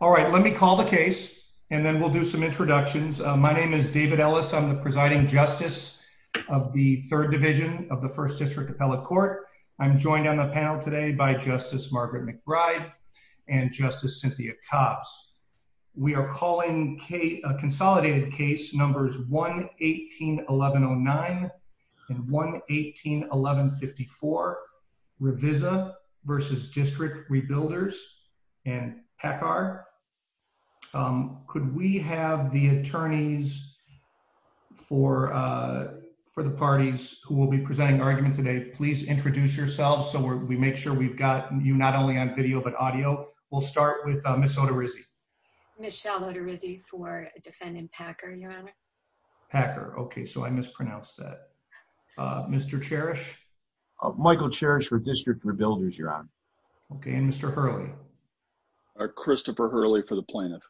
All right. Let me call the case and then we'll do some introductions. My name is David Ellis. I'm the Presiding Justice of the 3rd Division of the 1st District Appellate Court. I'm joined on the panel today by Justice Margaret McBride and Justice Cynthia Copps. We are calling a consolidated case numbers 1-18-1109 and 1-18-1154, Revisa v. District Rebuilders and Peckar. Could we have the attorneys for the parties who will be presenting the argument today, please introduce yourselves so we make sure we've got you not only on video but audio. We'll start with Ms. Oterizzi. Michelle Oterizzi for defendant Peckar, Your Honor. Peckar. Okay, so I mispronounced that. Mr. Cherish? Michael Cherish for District Rebuilders, Your Honor. Okay. And Mr. Hurley? Christopher Hurley for the plaintiff.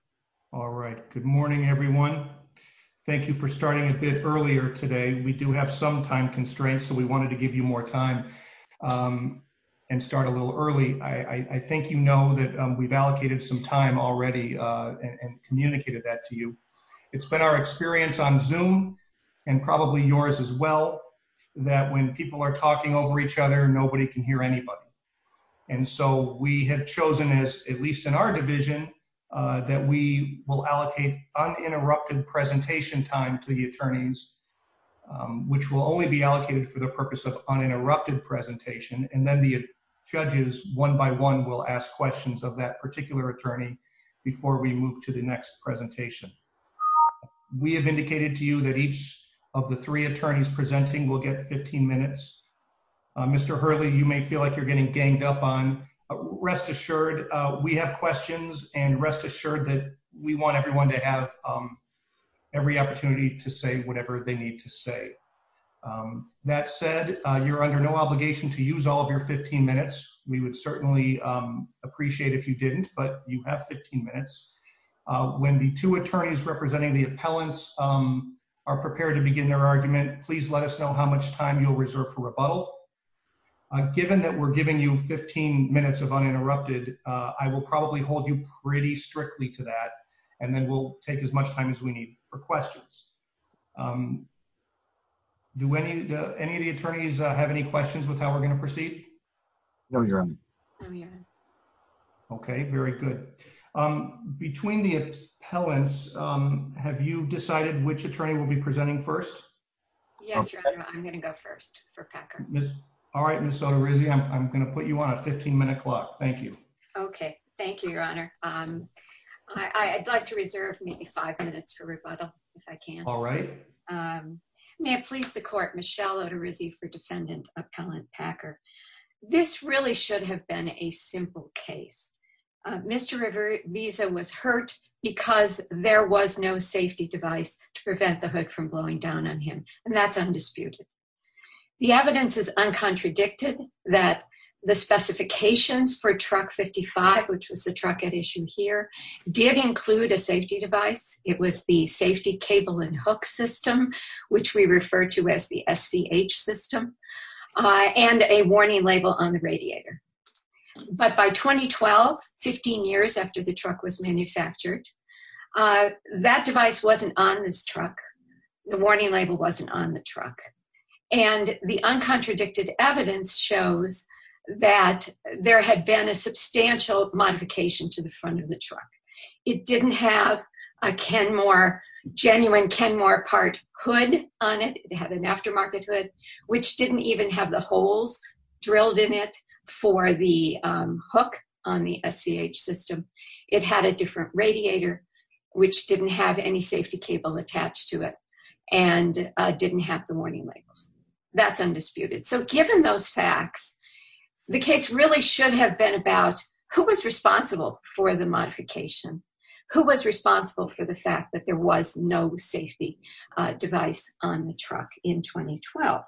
All right. Good morning, everyone. Thank you for starting a bit earlier today. We do have some time constraints. So we wanted to give you more time and start a little early. I think you know that we've allocated some time already and communicated that to you. It's been our experience on Zoom, and probably yours as well, that when people are talking over each other, nobody can hear anybody. And so we have chosen, at least in our division, that we will allocate uninterrupted presentation time to the attorneys, which will only be allocated for the purpose of uninterrupted presentation, and then the judges, one by one, will ask questions of that particular attorney before we move to the next presentation. We have indicated to you that each of the three attorneys presenting will get 15 minutes. Mr. Hurley, you may feel like you're getting ganged up on. Rest assured, we have questions and rest assured that we want everyone to have every opportunity to say whatever they need to say. That said, you're under no obligation to use all of your 15 minutes. We would certainly appreciate if you didn't, but you have 15 minutes. When the two attorneys representing the appellants are prepared to begin their argument, please let us know how much time you'll reserve for rebuttal. Given that we're giving you 15 minutes of uninterrupted, I will probably hold you pretty strictly to that, and then we'll take as much time as we need for questions. Do any of the attorneys have any questions with how we're going to proceed? No, Your Honor. Okay, very good. Between the appellants, have you decided which attorney will be presenting first? Yes, Your Honor, I'm going to go first for Packard. All right, Ms. Oterizzi, I'm going to put you on a 15-minute clock. Thank you. Okay, thank you, Your Honor. I'd like to reserve maybe five minutes for rebuttal, if I can. All right. May it please the Court, Michelle Oterizzi for Defendant Appellant Packard. This really should have been a simple case. Mr. Rivera's visa was hurt because there was no safety device to prevent the hood from blowing down on him, and that's undisputed. The evidence is uncontradicted that the specifications for Truck 55, which is the truck at issue here, did include a safety device. It was the Safety Cable and Hook System, which we refer to as the SCH system, and a warning label on the radiator. But by 2012, 15 years after the truck was manufactured, that device wasn't on this truck. The warning label wasn't on the truck. And the uncontradicted evidence shows that there had been a substantial modification to the front of the truck. It didn't have a genuine Kenmore part hood on it. It had an aftermarket hood, which didn't even have the holes drilled in it for the hook on the SCH system. It had a different radiator, which didn't have any safety cable attached to it and didn't have the warning label. That's undisputed. So given those facts, the case really should have been about who was responsible for the modification? Who was responsible for the fact that there was no safety device on the truck in 2012?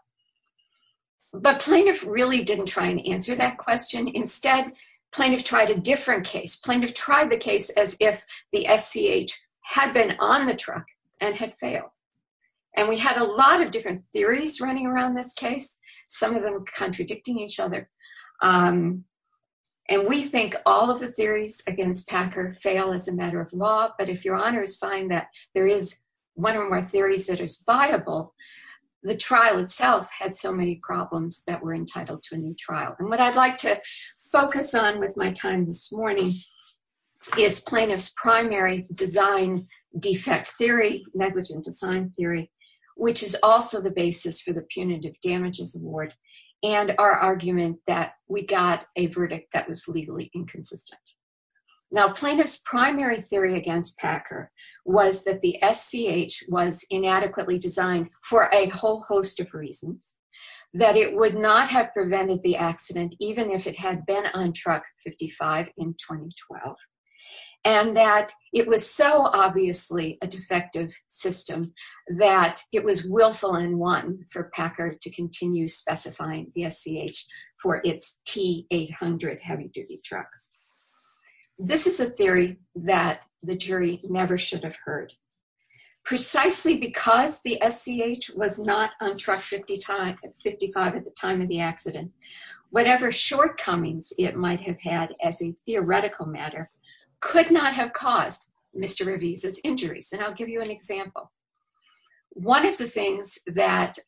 But plaintiffs really didn't try and answer that question. Instead, plaintiffs tried a different case. Plaintiffs tried the case as if the SCH had been on the truck and had failed. And we had a lot of different theories running around this case, some of them contradicting each other. And we think all of the theories against Packer fail as a matter of law, but if your honors find that there is one or more theories that is viable, the trial itself had so many problems that were entitled to a new trial. And what I'd like to focus on with my time this morning is plaintiff's primary design defect theory, negligent design theory, which is also the basis for the punitive damages award and our argument that we got a verdict that was legally inconsistent. Now plaintiff's primary theory against Packer was that the SCH was inadequately designed for a whole host of reasons. That it would not have prevented the accident, even if it had been on truck 55 in 2012. And that it was so obviously a defective system that it was willful and wanton for Packer to continue specifying the SCH for its T-800 heavy duty truck. This is a theory that the jury never should have heard. Precisely because the SCH was not on truck 55 at the time of the accident, whatever shortcomings it might have had as a theoretical matter could not have caused Mr. Rivez's injuries. And I'll give you an example. One of the things that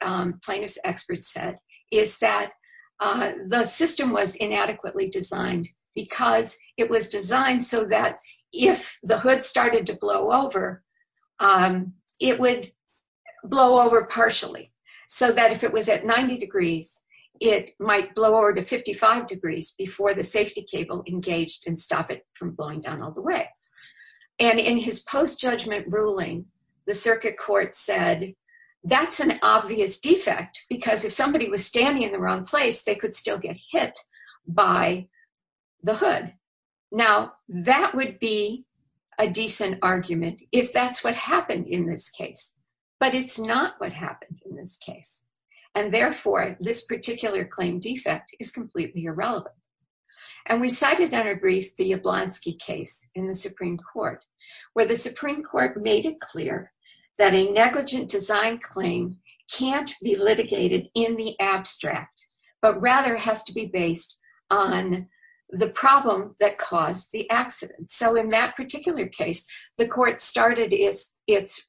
plaintiff's expert said is that the system was inadequately designed because it was designed so that if the hood started to blow over, it would blow over partially. So that if it was at 90 degrees, it might blow over to 55 degrees before the safety cable engaged and stop it from blowing down all the way. And in his post judgment ruling, the circuit court said that's an obvious defect because if somebody was standing in the wrong place, they could still get hit by the hood. Now that would be a decent argument if that's what happened in this case, but it's not what happened in this case. And therefore, this particular claim defect is completely irrelevant. And we cited in our brief the Jablonski case in the Supreme Court, where the Supreme Court made it clear that a negligent design claim can't be litigated in the abstract, but rather has to be based on the problem that caused the accident. So in that particular case, the court started its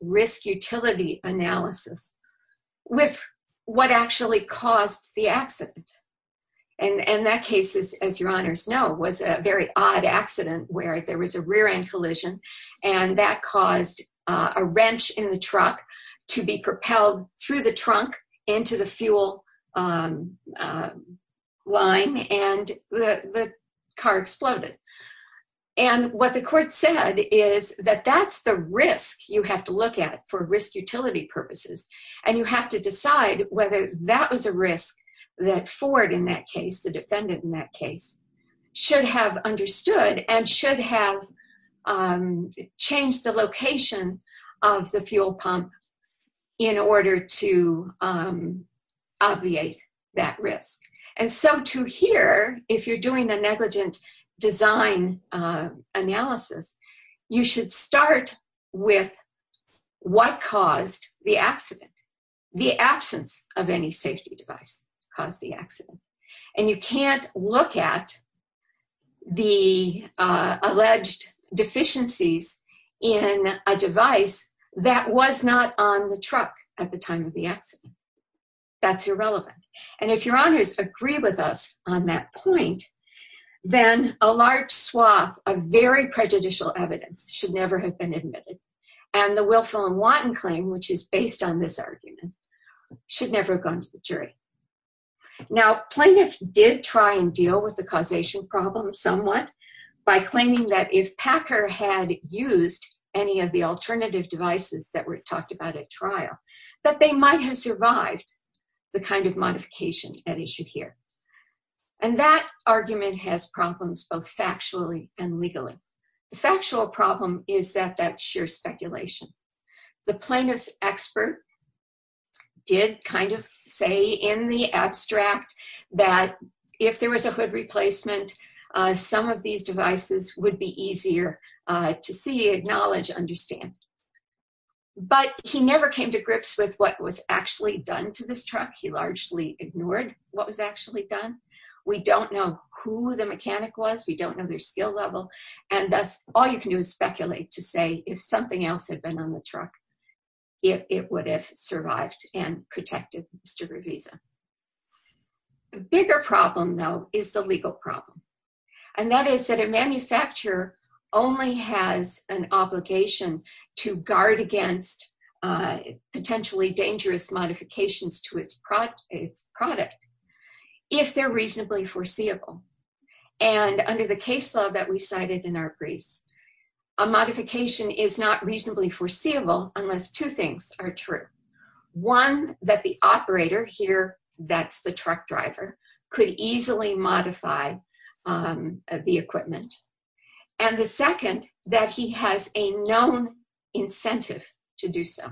risk utility analysis with what actually caused the accident. And that case, as your honors know, was a very odd accident where there was a rear end collision and that caused a wrench in the truck to be propelled through the trunk into the fuel line and the car exploded. And what the court said is that that's the risk you have to look at for risk utility purposes and you have to decide whether that was a risk that Ford, in that case, the defendant in that case, should have understood and should have changed the location of the fuel pump in order to obviate that risk. And so to here, if you're doing the negligent design analysis, you should start with what caused the accident. The absence of any safety device caused the accident. And you can't look at the alleged deficiencies in a device that was not on the truck at the time of the accident. That's irrelevant. And if your honors agree with us on that point, then a large swath of very prejudicial evidence should never have been admitted. And the Wilfill and Watton claim, which is based on this argument, should never have gone to the jury. Now, plaintiffs did try and deal with the causation problem somewhat by claiming that if Packer had used any of the alternative devices that were talked about at trial, that they might have survived the kind of modification that he should hear. And that argument has problems both factually and legally. The factual problem is that that's sheer speculation. The plaintiff's expert did kind of say in the abstract that if there was a hood replacement, some of these devices would be easier to see, acknowledge, understand. But he never came to grips with what was actually done to this truck. He largely ignored what was actually done. We don't know who the mechanic was. We don't know their skill level. And that's all you can do is speculate to say if something else had been on the truck, it would have survived and protected Mr. Ravita. The bigger problem, though, is the legal problem. And that is that a manufacturer only has an obligation to guard against potentially dangerous modifications to its product if they're reasonably foreseeable. And under the case law that we cited in our brief, a modification is not reasonably foreseeable unless two things are true. One, that the operator here, that's the truck driver, could easily modify the equipment. And the second, that he has a known incentive to do so.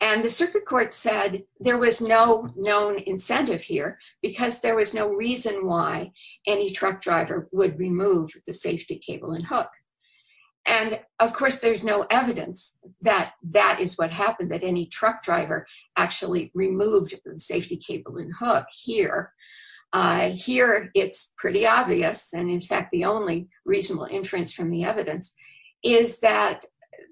And the circuit court said there was no known incentive here because there was no reason why any truck driver would remove the safety cable and hook. And of course, there's no evidence that that is what happened, that any truck driver actually removed the safety cable and hook here. Here, it's pretty obvious. And in fact, the only reasonable inference from the evidence is that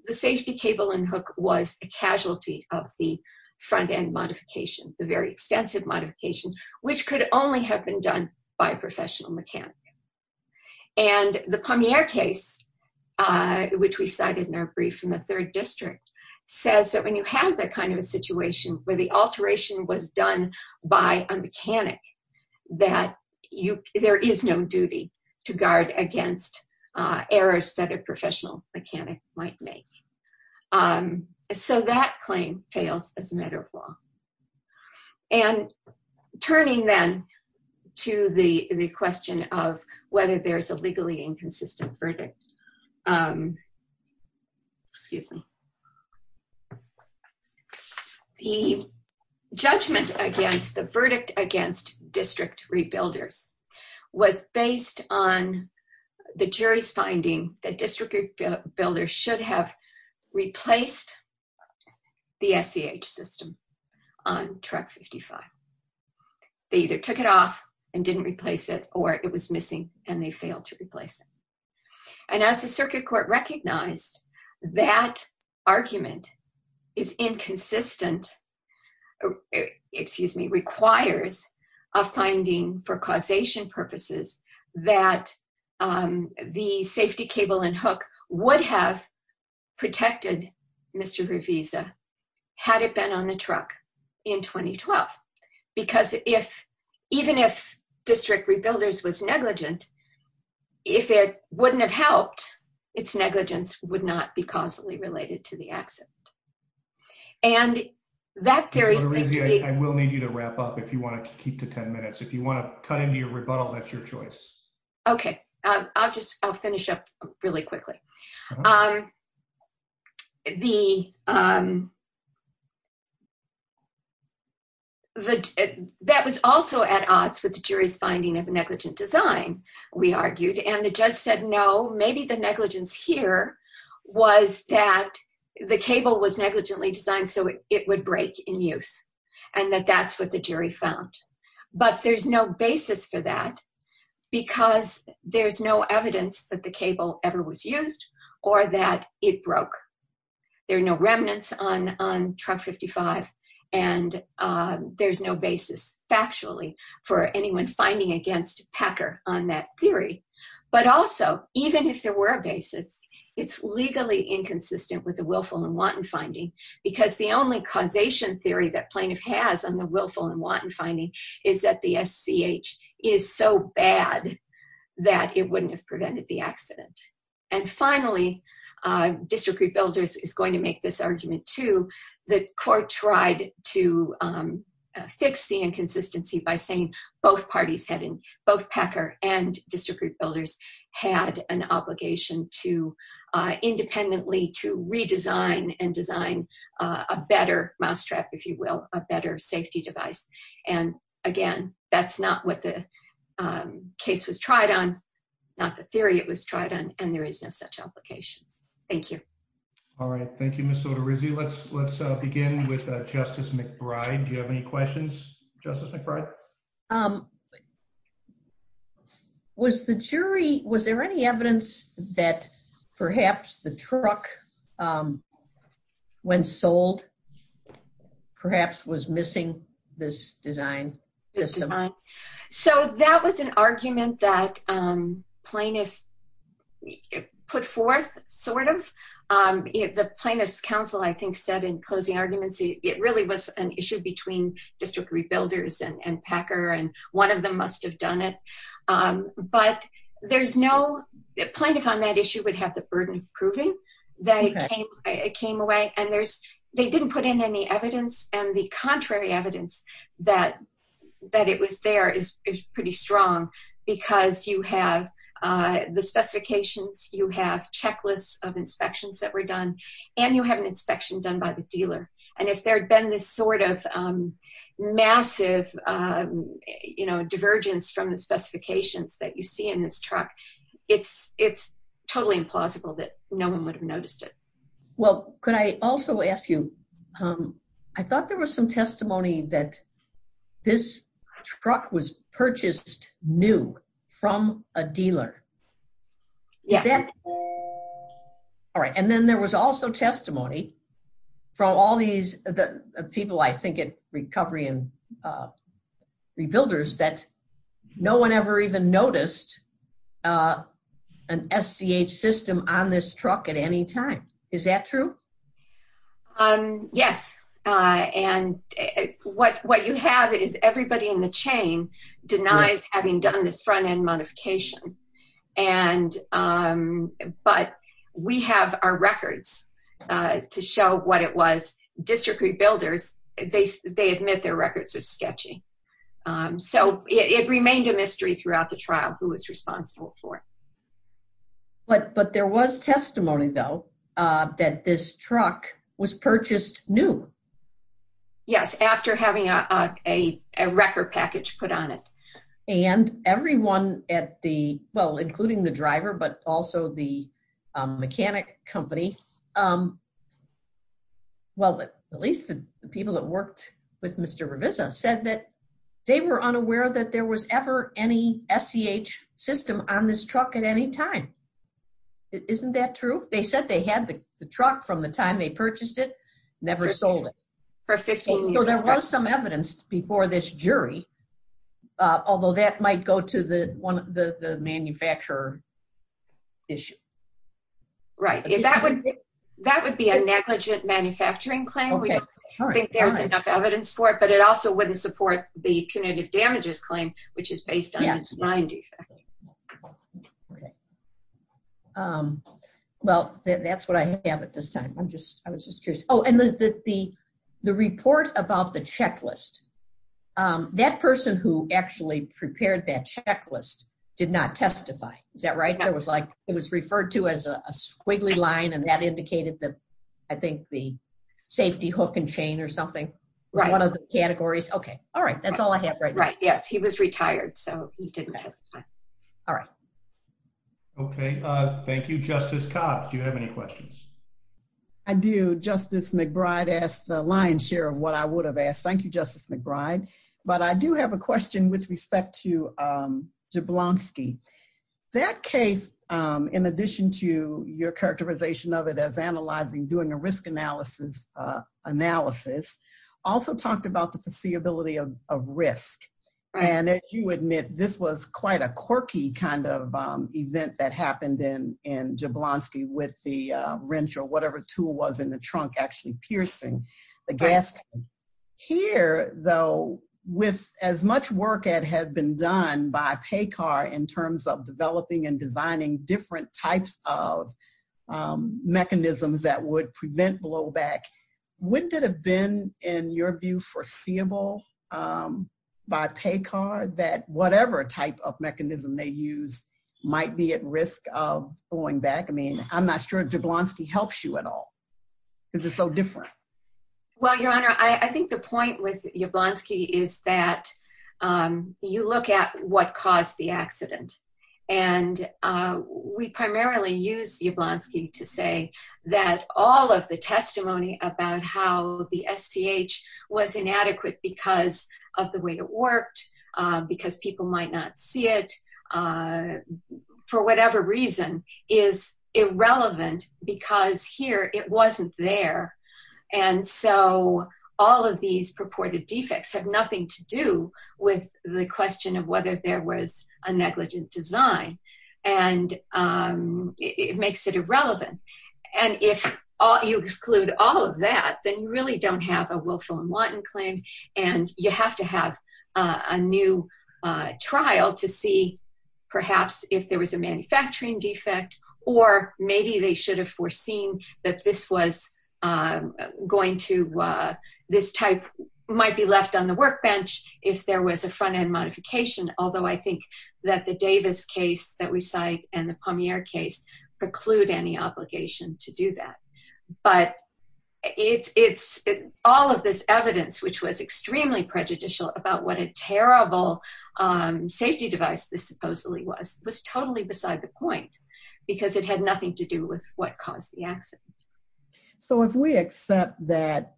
the safety cable and hook was a casualty of the front end modification, the very extensive modification, which could only have been done by a professional mechanic. And the Pommier case, which we cited in our brief, in the third district, says that when you have that kind of a situation where the alteration was done by a mechanic, that there is no duty to guard against errors that a professional mechanic might make. So that claim fails as a matter of law. And turning then to the question of whether there's a legally inconsistent verdict. Excuse me. The judgment against, the verdict against district rebuilders was based on the jury's finding that district builders should have replaced the SEH system on truck 55. They either took it off and didn't replace it or it was missing and they failed to replace it. And as the circuit court recognized that argument is inconsistent, excuse me, requires a finding for causation purposes that the safety cable and hook would have protected Mr. Gravisa had it been on the truck in 2012. Because if, even if district rebuilders was negligent, if it wouldn't have helped, its negligence would not be causally related to the accident. And that's very I will need you to wrap up if you want to keep to 10 minutes. If you want to cut into your rebuttal, that's your choice. Okay, I'll just finish up really quickly. The That was also at odds with the jury's finding of negligent design, we argued, and the judge said, no, maybe the negligence here was that the cable was negligently designed so it would break in use and that that's what the jury found. But there's no basis for that. Because there's no evidence that the cable ever was used or that it broke. There are no records of it. On on truck 55 and there's no basis factually for anyone's finding against Pecker on that theory. But also, even if there were a basis, it's legally inconsistent with the willful and wanton finding because the only causation theory that plaintiff has on the willful and wanton finding is that the SCH is so bad. That it wouldn't have prevented the accident. And finally, District Rebuilders is going to make this argument to the court tried to fix the inconsistency by saying both parties heading both Pecker and District Rebuilders had an obligation to independently to redesign and design a better mousetrap, if you will, a better safety device. And again, that's not what the Case was tried on not the theory. It was tried on and there is no such application. Thank you. All right. Thank you. So to review. Let's, let's begin with Justice McBride. You have any questions, Justice McBride. Was the jury. Was there any evidence that perhaps the truck. When sold Perhaps was missing this design. So that was an argument that plaintiff Put forth sort of The plaintiff's counsel, I think, said in closing arguments. It really was an issue between District Rebuilders and Pecker and one of them must have done it. But there's no plaintiff on that issue would have the burden of proving that it came away and there's they didn't put in any evidence and the contrary evidence that That it was there is pretty strong because you have the specifications you have checklists of inspections that were done and you have an inspection done by the dealer. And if there's been this sort of Massive You know, divergence from the specifications that you see in this truck. It's, it's totally implausible that no one would have noticed it. Well, could I also ask you I thought there was some testimony that this truck was purchased new from a dealer. Yeah. All right. And then there was also testimony from all these people. I think it's recovery and Rebuilders that no one ever even noticed. An SCA system on this truck at any time. Is that true Um, yes. And what what you have is everybody in the chain denied having done the front end modification and But we have our records to show what it was district rebuilders, they, they admit their records are sketchy. So it remained a mystery throughout the trial, who is responsible for it. But, but there was testimony, though, that this truck was purchased new Yes, after having a record package put on it. And everyone at the well including the driver, but also the mechanic company. Um, Well, but at least the people that worked with Mr revisit said that they were unaware that there was ever any SCA system on this truck at any time. Isn't that true. They said they had the truck from the time they purchased it never sold it for 15 years. There was some evidence before this jury. Although that might go to the one of the manufacturer. Issue. Right, if that would that would be a negligent manufacturing claim. Evidence for it, but it also wouldn't support the kinetic damages claim, which is based on its mind. Well, that's what I have at the center. I'm just, I was just curious. Oh, and the, the, the report about the checklist. That person who actually prepared that checklist did not testify that right. I was like, it was referred to as a squiggly line and that indicated that I think the safety hook and chain or something. Right. One of the categories. Okay. All right. That's all I have. Right. Right. Yes, he was retired. So, All right. Okay. Thank you, Justice Cox. You have any questions. I do justice McBride asked the lion's share of what I would have asked. Thank you, Justice McBride, but I do have a question with respect to Analysis also talked about the ability of risk. And as you admit, this was quite a quirky kind of event that happened in in Jablonski with the wrench or whatever tool was in the trunk actually piercing the gas. Here, though, with as much work at had been done by pay car in terms of developing and designing different types of Mechanisms that would prevent blow back. What did have been in your view foreseeable. By pay car that whatever type of mechanism they use might be at risk of going back. I mean, I'm not sure if the blankey helps you at all. This is so different. Well, your honor. I think the point with your blankey is that You look at what caused the accident and we primarily use the blankey to say that all of the testimony about how the STH was inadequate because of the way it worked because people might not see it. For whatever reason is irrelevant because here it wasn't there. And so all of these purported defects have nothing to do with the question of whether there was a negligent design and It makes it irrelevant. And if you exclude all of that, then you really don't have a Wilhelm Watten claim and you have to have a new trial to see perhaps if there was a manufacturing defect or maybe they should have foreseen that this was Going to this type might be left on the workbench. If there was a front end modification, although I think that the Davis case that we cite and the premier case preclude any obligation to do that, but It's all of this evidence which was extremely prejudicial about what a terrible safety device. This supposedly was was totally beside the point because it had nothing to do with what caused the accident. So if we accept that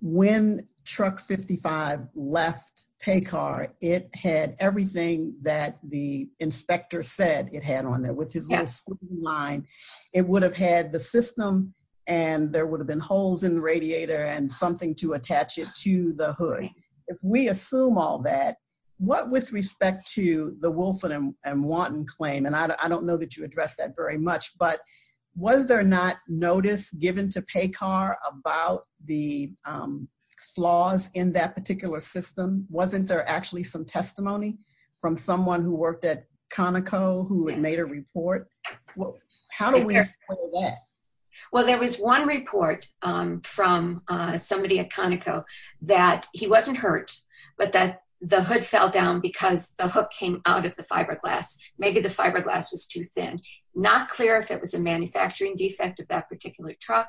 When truck 55 left pay car. It had everything that the inspector said it had on there with Mine, it would have had the system and there would have been holes in the radiator and something to attach it to the hood. If we assume all that what with respect to the Wilson and wanton claim and I don't know that you address that very much, but was there not notice given to pay car about the Flaws in that particular system. Wasn't there actually some testimony from someone who worked at Conoco who made a report. How do we Well, there was one report from somebody at Conoco that he wasn't hurt, but that the hood fell down because the hook came out of the fiberglass. Maybe the fiberglass was too thin. Not clear if it was a manufacturing defect of that particular truck.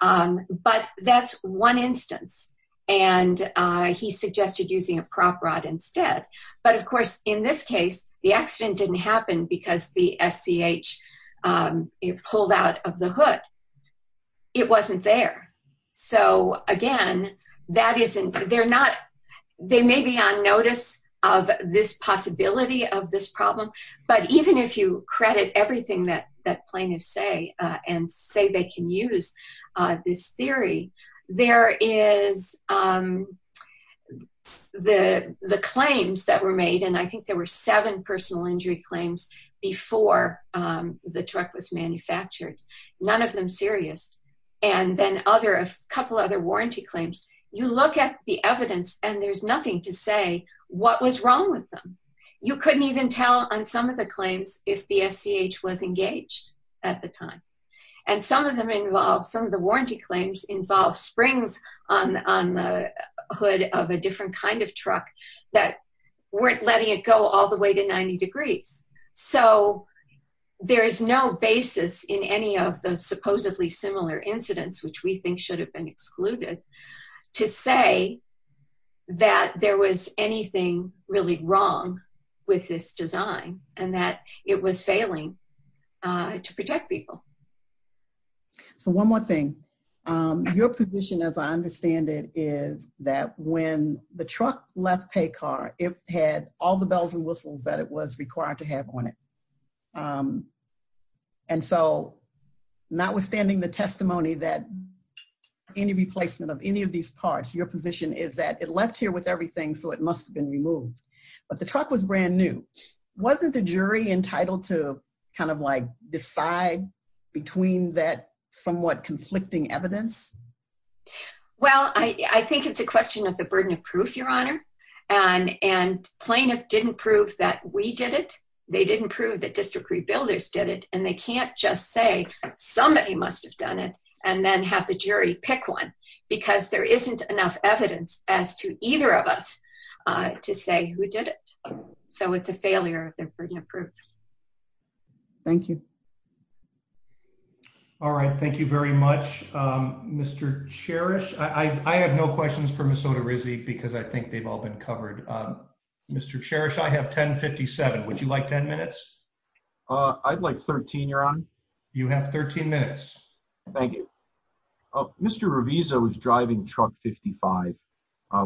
But that's one instance and he suggested using a prop rod instead. But of course, in this case, the accident didn't happen because the FCH It pulled out of the hood. It wasn't there. So again, that isn't, they're not, they may be on notice of this possibility of this problem. But even if you credit everything that that plaintiff say and say they can use this theory, there is The claims that were made. And I think there were seven personal injury claims before the truck was manufactured. None of them serious. And then other a couple other warranty claims. You look at the evidence and there's nothing to say what was wrong with them. You couldn't even tell on some of the claims if the FCH was engaged at the time. And some of them involved from the warranty claims involve springs on the hood of a different kind of truck that Weren't letting it go all the way to 90 degrees. So there is no basis in any of the supposedly similar incidents, which we think should have been excluded to say that there was anything really wrong with this design and that it was failing to protect people. So one more thing. Your position, as I understand it, is that when the truck left pay car it had all the bells and whistles, but it was required to have on it. And so, notwithstanding the testimony that Any replacement of any of these parts, your position is that it left here with everything. So it must have been removed, but the truck was brand new. Wasn't the jury entitled to kind of like decide between that somewhat conflicting evidence. Well, I think it's a question of the burden of proof, your honor and and plaintiff didn't prove that we did it. They didn't prove that district rebuilders did it and they can't just say Somebody must have done it and then have the jury pick one because there isn't enough evidence as to either of us to say who did it. So it's a failure of the burden of proof. Thank you. All right. Thank you very much, Mr. Cherish. I have no questions from a soda receipt because I think they've all been covered. Mr. Cherish. I have 1057 would you like 10 minutes I'd like 13 year on you have 13 minutes. Thank you. Driving truck 55,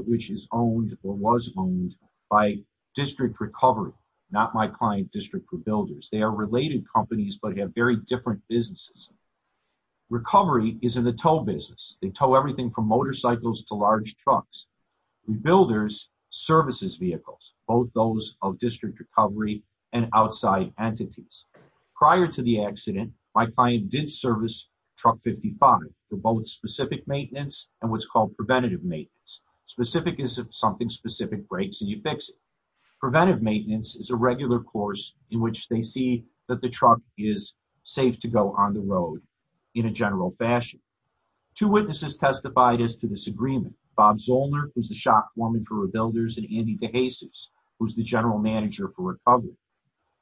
which is owned or was owned by district recovery, not my client district for builders. They are related companies, but have very different businesses. Recovery is in the tow business. They tell everything from motorcycles to large trucks. Rebuilders services vehicles, both those of district recovery and outside entities. Prior to the accident, my client did service truck 55 for both specific maintenance and what's called preventative maintenance specific is something specific breaks and you fix it. Preventative maintenance is a regular course in which they see that the truck is safe to go on the road in a general fashion. Two witnesses testified as to this agreement Bob Zollner was the shock woman for rebuilders and Andy DeJesus, who's the general manager for recovery.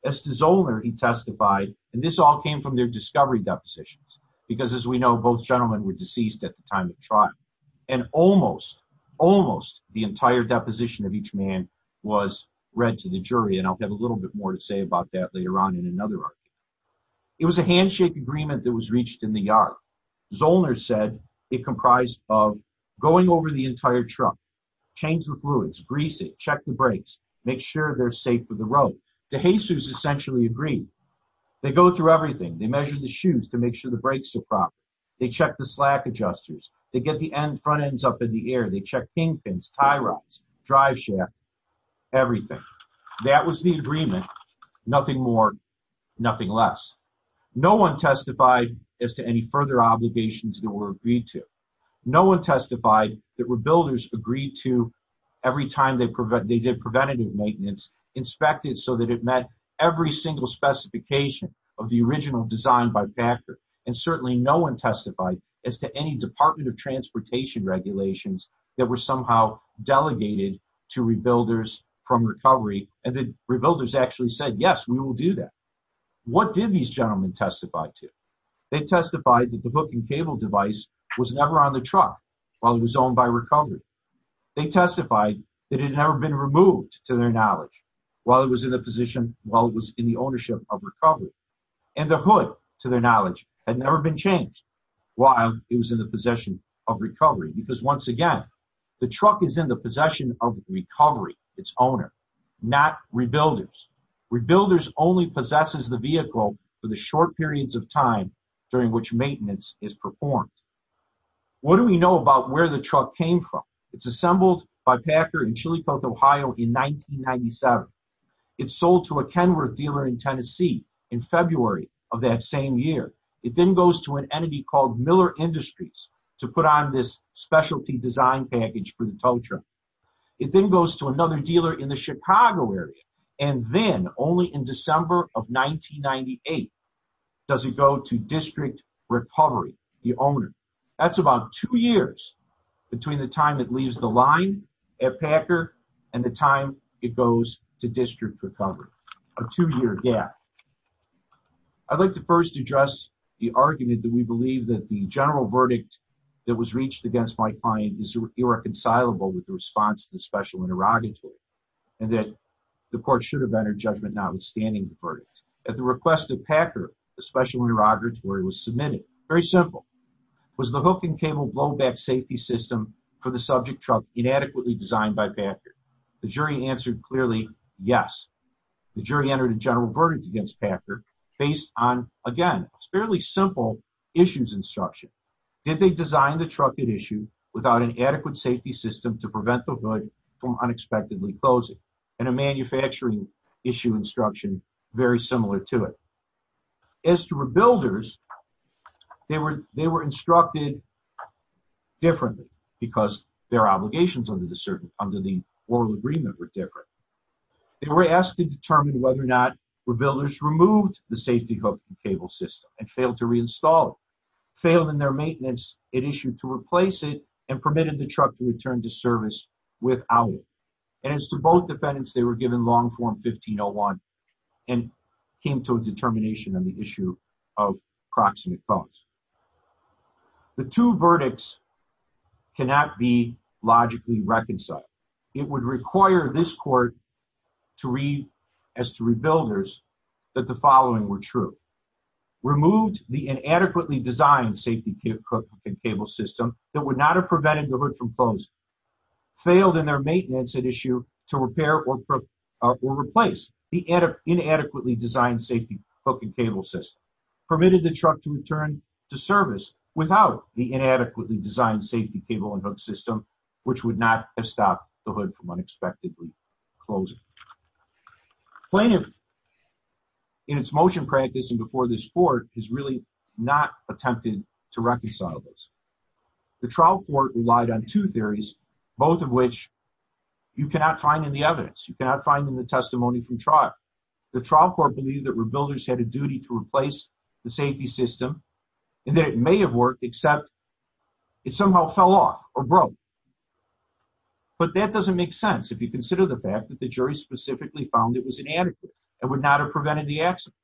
As the Zollner he testified, and this all came from their discovery depositions, because as we know, both gentlemen were deceased at the time of trial and almost, almost the entire deposition of each man was read to the jury and I'll have a little bit more to say about that later on in another. It was a handshake agreement that was reached in the yard. Zollner said it comprised of going over the entire truck, change the fluids, grease it, check the brakes, make sure they're safe for the road. DeJesus essentially agreed. They go through everything. They measure the shoes to make sure the brakes are proper. They check the slack adjusters. They get the end front ends up in the air. They check kingpins, tie rods, driveshaft, everything. That was the agreement. Nothing more, nothing less. No one testified as to any further obligations that were agreed to. No one testified that rebuilders agreed to, every time they did preventative maintenance, inspect it so that it met every single specification of the original design by factor. And certainly no one testified as to any Department of Transportation regulations that were somehow delegated to rebuilders from recovery and the rebuilders actually said, yes, we will do that. What did these gentlemen testify to? They testified that the hook and cable device was never on the truck while it was owned by recovery. They testified that it had never been removed, to their knowledge, while it was in the position, while it was in the ownership of recovery. And the hood, to their knowledge, had never been changed while it was in the possession of recovery. Because once again, the truck is in the possession of recovery, its owner, not rebuilders. Rebuilders only possesses the vehicle for the short periods of time during which maintenance is performed. What do we know about where the truck came from? It's assembled by Packer in Chili Cove, Ohio in 1997. It sold to a Kenworth dealer in Tennessee in February of that same year. It then goes to an entity called Miller Industries to put on this specialty design package for the tow truck. It then goes to another dealer in the Chicago area and then, only in December of 1998, does it go to District Recovery, the owner. That's about two years between the time it leaves the line at Packer and the time it goes to District Recovery. A two year gap. I'd like to first address the argument that we believe that the general verdict that was reached against my client is irreconcilable with the response of the Special Interrogatory. And that the court should have entered judgment notwithstanding the verdict. At the request of Packer, the Special Interrogatory was submitted. Very simple. Was the hook and cable blowback safety system for the subject truck inadequately designed by Packer? The jury answered clearly, yes. The jury entered a general verdict against Packer based on, again, fairly simple issues instruction. Did they design the truck at issue without an adequate safety system to prevent the hood from unexpectedly closing? And a manufacturing issue instruction very similar to it. As to Rebuilders, they were instructed differently because their obligations under the oral agreement were different. They were asked to determine whether or not Rebuilders removed the safety hook and cable system and failed to reinstall it. Failed in their maintenance at issue to replace it and permitted the truck to return to service without it. As to both defendants, they were given Long Form 1501 and came to a determination on the issue of proximate phones. The two verdicts cannot be logically reconciled. It would require this court to read, as to Rebuilders, that the following were true. Removed the inadequately designed safety hook and cable system that would not have prevented the hood from closing. Failed in their maintenance at issue to repair or replace the inadequately designed safety hook and cable system. Permitted the truck to return to service without the inadequately designed safety cable and hook system, which would not have stopped the hood from unexpectedly closing. Plaintiff, in its motion practice and before this court, has really not attempted to reconcile this. The trial court relied on two theories, both of which you cannot find in the evidence. You cannot find in the testimony from trial. The trial court believed that Rebuilders had a duty to replace the safety system and that it may have worked, except it somehow fell off or broke. But that doesn't make sense if you consider the fact that the jury specifically found it was inadequate and would not have prevented the accident.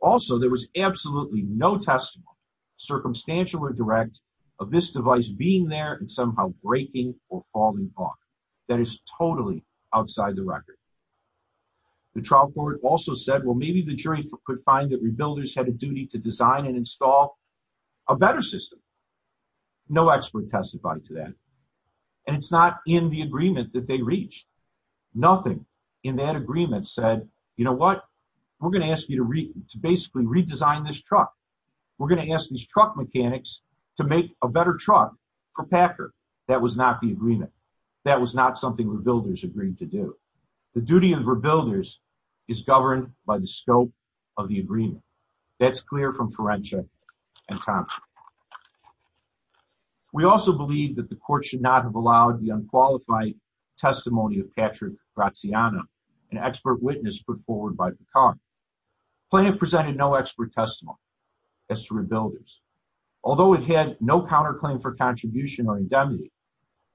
Also, there was absolutely no testimony, circumstantial or direct, of this device being there and somehow breaking or falling apart. That is totally outside the record. The trial court also said, well, maybe the jury could find that Rebuilders had a duty to design and install a better system. No expert testified to that. And it's not in the agreement that they reached. Nothing in that agreement said, you know what, we're going to ask you to basically redesign this truck. We're going to ask these truck mechanics to make a better truck for Packer. That was not the agreement. That was not something Rebuilders agreed to do. The duty of Rebuilders is governed by the scope of the agreement. That's clear from Ferentia and Thompson. We also believe that the court should not have allowed the unqualified testimony of Patrick Graziano, an expert witness put forward by the court. Plaintiff presented no expert testimony as to Rebuilders. Although it had no counterclaim for contribution or indemnity,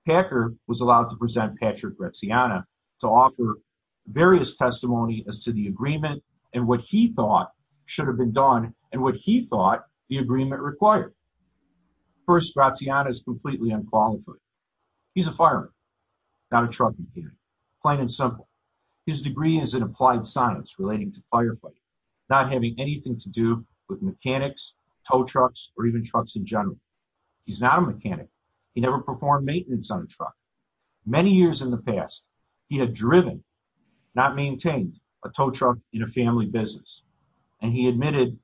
Packer was allowed to present Patrick Graziano to offer various testimony as to the agreement and what he thought should have been done and what he thought the agreement required. First, Graziano is completely unqualified. He's a fireman, not a truck mechanic, plain and simple. His degree is in applied science relating to fireplace, not having anything to do with mechanics, tow trucks, or even trucks in general. He's not a mechanic. He never performed maintenance on a truck. Many years in the past, he had driven, not maintained, a tow truck in a family business. And he admitted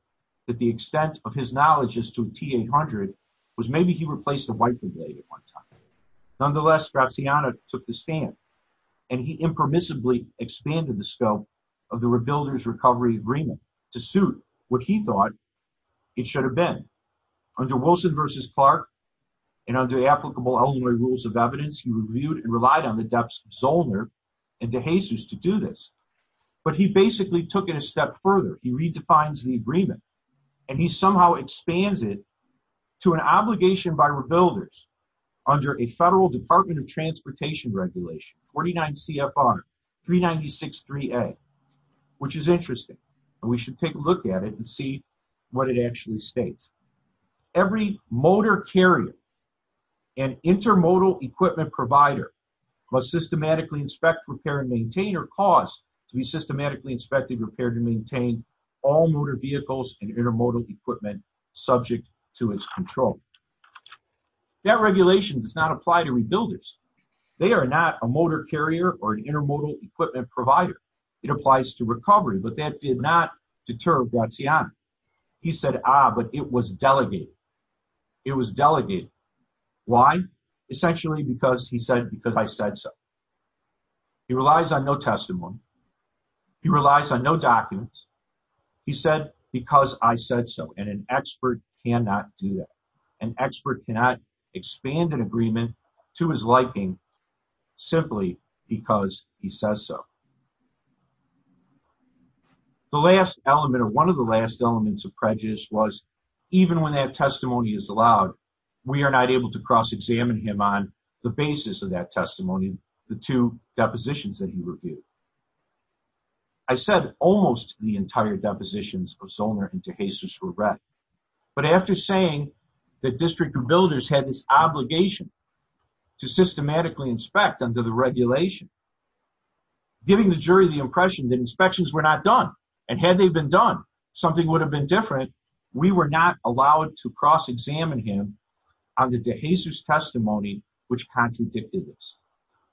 that the extent of his knowledge as to a T-800 was maybe he replaced a wiper blade at one time. Nonetheless, Graziano took the stand, and he impermissibly expanded the scope of the Rebuilders' recovery agreement to suit what he thought it should have been. Under Wilson v. Clark, and under applicable elderly rules of evidence, he reviewed and relied on the depths of Zollner and DeJesus to do this. But he basically took it a step further. He redefines the agreement. And he somehow expands it to an obligation by Rebuilders under a federal Department of Transportation regulation, 49 CFR 396-3A, which is interesting. We should take a look at it and see what it actually states. Every motor carrier and intermodal equipment provider must systematically inspect, repair, and maintain or cause to be systematically inspected, repaired, and maintained all motor vehicles and intermodal equipment subject to its control. That regulation does not apply to Rebuilders. They are not a motor carrier or an intermodal equipment provider. It applies to recovery, but that did not deter Graziano. He said, ah, but it was delegated. It was delegated. Why? Essentially because he said, because I said so. He relies on no testimony. He relies on no documents. He said, because I said so, and an expert cannot do that. An expert cannot expand an agreement to his liking simply because he says so. The last element or one of the last elements of prejudice was, even when that testimony is allowed, we are not able to cross-examine him on the basis of that testimony, the two depositions that he revealed. I said almost the entire depositions of Soner and DeJesus were read, but after saying that District of Builders had this obligation to systematically inspect under the regulation, giving the jury the impression that inspections were not done, and had they been done, something would have been different. We were not allowed to cross-examine him on the DeJesus testimony which contradicted this.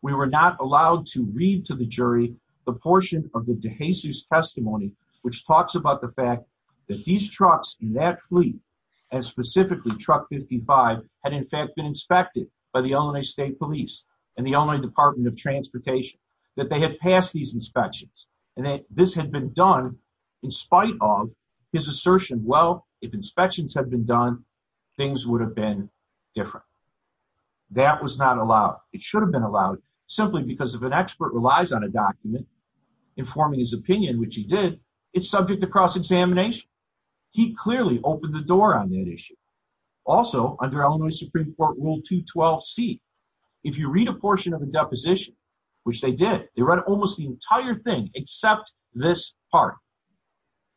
We were not allowed to read to the jury the portion of the DeJesus testimony which talks about the fact that these trucks in that fleet, and specifically truck 55, had in fact been inspected by the Illinois State Police and the Illinois Department of Transportation, that they had passed these inspections, and that this had been done in spite of his assertion, well, if inspections had been done, things would have been different. That was not allowed. It should have been allowed simply because if an expert relies on a document informing his opinion, which he did, it's subject to cross-examination. He clearly opened the door on that issue. Also, under Illinois Supreme Court Rule 212C, if you read a portion of the deposition, which they did, they read almost the entire thing except this part.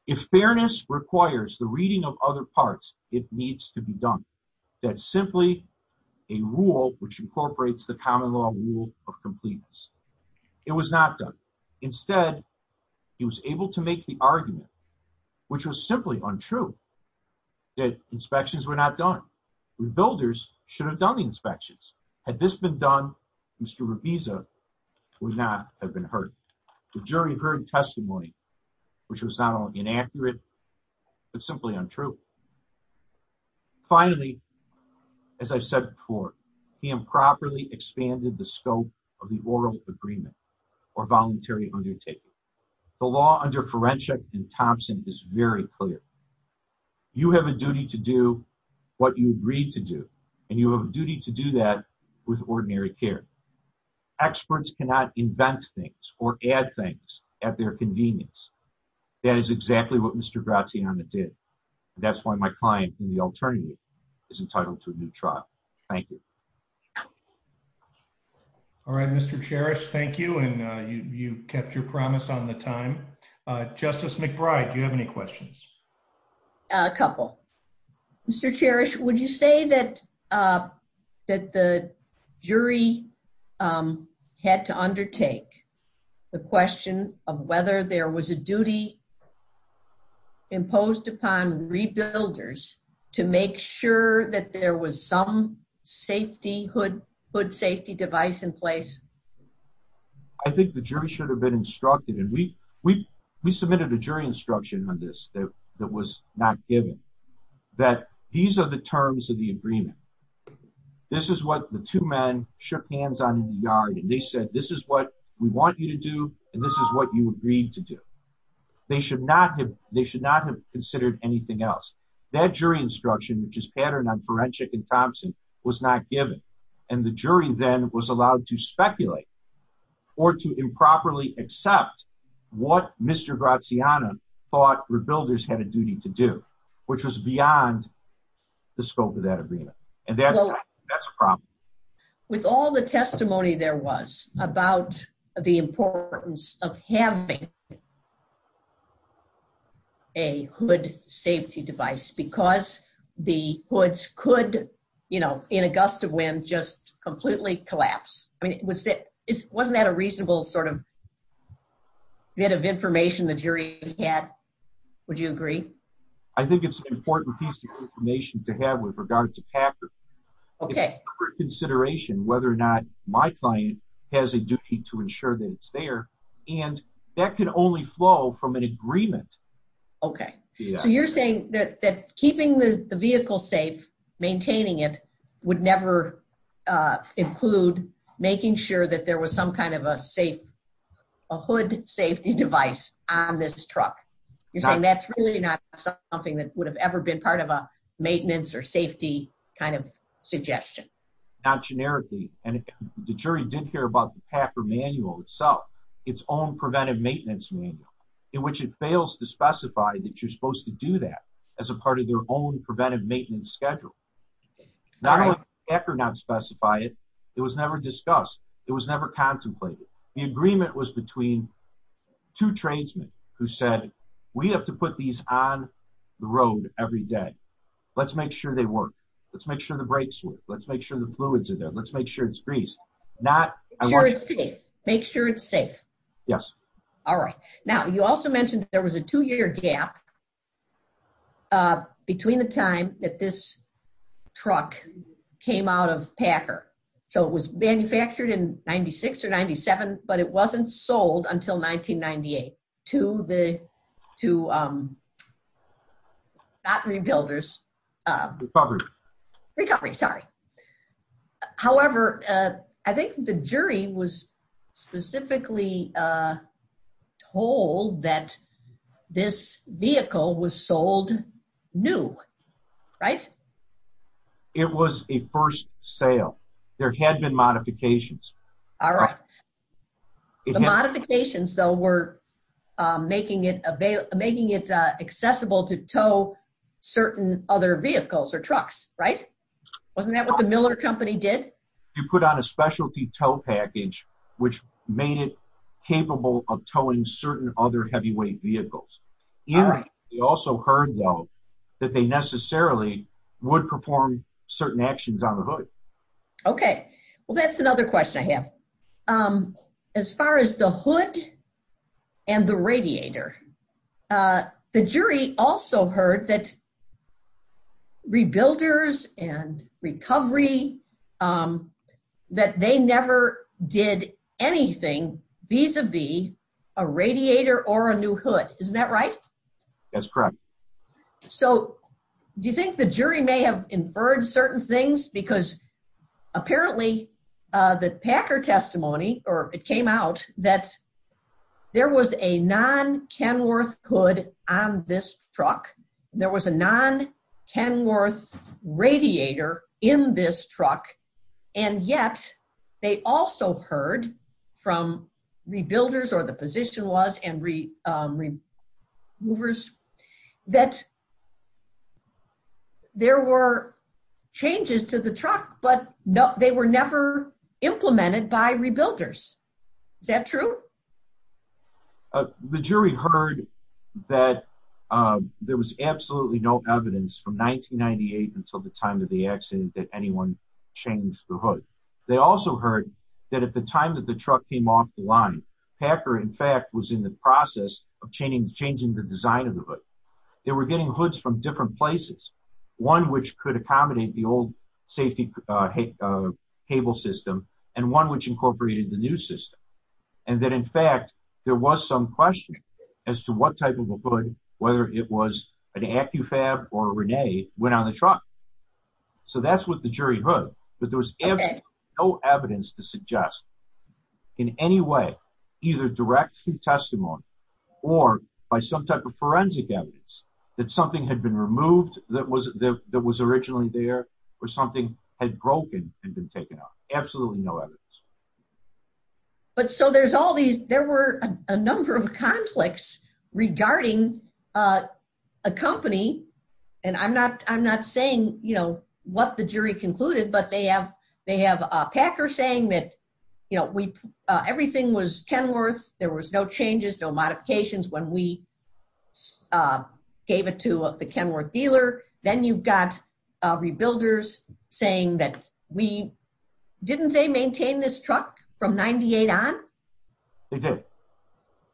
If fairness requires the reading of other parts, it needs to be done. That's simply a rule which incorporates the common law rule of completeness. It was not done. Instead, he was able to make the argument, which was simply untrue, that inspections were not done. Rebuilders should have done the inspections. Had this been done, Mr. Revisa would not have been heard. The jury heard testimony which was not only inaccurate, but simply untrue. Finally, as I said before, he improperly expanded the scope of the oral agreement or voluntary undertaking. The law under Forensic and Thompson is very clear. You have a duty to do what you agreed to do, and you have a duty to do that with ordinary care. Experts cannot invent things or add things at their convenience. That is exactly what Mr. Graziano did. That's why my client in the alternative is entitled to a new trial. Thank you. All right, Mr. Cherish. Thank you. You kept your promise on the time. Justice McBride, do you have any questions? A couple. Mr. Cherish, would you say that the jury had to undertake the question of whether there was a duty imposed upon the rebuilders to make sure that there was some safety, hood safety device in place? I think the jury should have been instructed. We submitted a jury instruction on this that was not given. That these are the terms of the agreement. This is what the two men shook hands on in the yard, and they said, this is what we want you to do, and this is what you agreed to do. They should not have considered anything else. That jury instruction, which is patterned on Forensic and Thompson, was not given. And the jury then was allowed to speculate or to improperly accept what Mr. Graziano thought rebuilders had a duty to do, which was beyond the scope of that agreement. With all the testimony there was about the importance of having a hood safety device, because the hoods could, you know, in a gust of wind, just completely collapse. Wasn't that a reasonable sort of bit of information the jury had? Would you agree? I think it's an important piece of information to have with regard to pattern. Okay. Consideration whether or not my client has a duty to ensure that it's there, and that can only flow from an agreement. Okay. So you're saying that keeping the vehicle safe, maintaining it, would never include making sure that there was some kind of a hood safety device on this truck. You're saying that's really not something that would have ever been part of a maintenance or safety kind of suggestion. Not generically. And the jury did hear about the Packer manual itself, its own preventive maintenance manual, in which it fails to specify that you're supposed to do that as a part of their own preventive maintenance schedule. Not only did Packer not specify it, it was never discussed. It was never contemplated. The agreement was between two tradesmen who said, we have to put these on the road every day. Let's make sure they work. Let's make sure the brakes work. Let's make sure the fluids are there. Let's make sure it's greased. Make sure it's safe. Yes. All right. Now, you also mentioned there was a two-year gap between the time that this truck came out of Packer. So it was manufactured in 96 or 97, but it wasn't sold until 1998 to the, to, not rebuilders. Recovery. Recovery, sorry. However, I think the jury was specifically told that this vehicle was sold new. Right? It was a first sale. There had been modifications. All right. The modifications, though, were making it available, making it accessible to tow certain other vehicles or trucks. Right? Wasn't that what the Miller Company did? You put on a specialty tow package, which made it capable of towing certain other heavyweight vehicles. All right. You also heard, though, that they necessarily would perform certain actions on the hood. Okay. Well, that's another question I have. As far as the hood and the radiator, the jury also heard that rebuilders and recovery, that they never did anything vis-a-vis a radiator or a new hood. Isn't that right? That's correct. So do you think the jury may have inferred certain things? Because apparently the Packer testimony, or it came out, that there was a non-Kenworth hood on this truck. There was a non-Kenworth radiator in this truck. And yet, they also heard from rebuilders, or the position was, and removers, that there were changes to the truck, but they were never implemented by rebuilders. Is that true? The jury heard that there was absolutely no evidence from 1998 until the time of the accident that anyone changed the hood. They also heard that at the time that the truck came off the line, Packer, in fact, was in the process of changing the design of the hood. They were getting hoods from different places. One which could accommodate the old safety cable system, and one which incorporated the new system. And that, in fact, there was some question as to what type of a hood, whether it was an Accufab or a Rene, went on the truck. So that's what the jury heard, that there was no evidence to suggest in any way, either direct through testimony, or by some type of forensic evidence, that something had been removed that was originally there, or something had broken and been taken off. Absolutely no evidence. So there were a number of conflicts regarding a company, and I'm not saying what the jury concluded, but they have Packer saying that everything was Kenworth, there was no changes, no modifications when we gave it to the Kenworth dealer. Then you've got Rebuilders saying that we, didn't they maintain this truck from 98 on?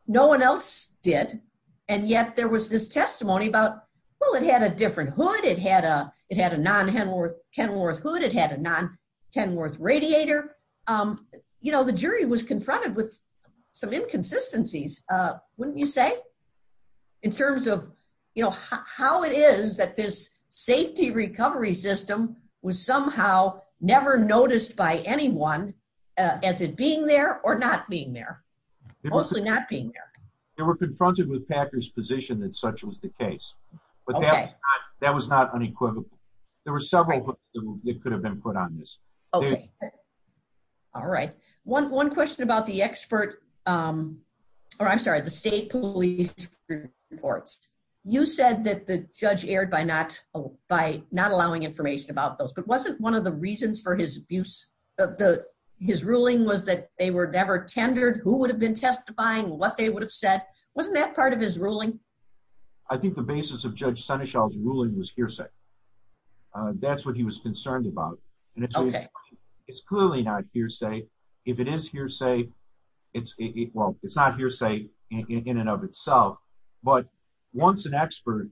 No one else did, and yet there was this testimony about, well, it had a different hood, it had a non-Kenworth hood, it had a non-Kenworth radiator. The jury was confronted with some inconsistencies, wouldn't you say? In terms of how it is that this safety recovery system was somehow never noticed by anyone, as it being there or not being there. Mostly not being there. They were confronted with Packer's position that such was the case, but that was not unequivocal. There were several hoods that could have been put on this. All right. One question about the state police reports. You said that the judge erred by not allowing information about those, but wasn't one of the reasons for his ruling was that they were never tendered? Who would have been testifying? What they would have said? Wasn't that part of his ruling? I think the basis of Judge Seneschal's ruling was hearsay. That's what he was concerned about. It's clearly not hearsay. If it is hearsay, well, it's not hearsay in and of itself, but once an expert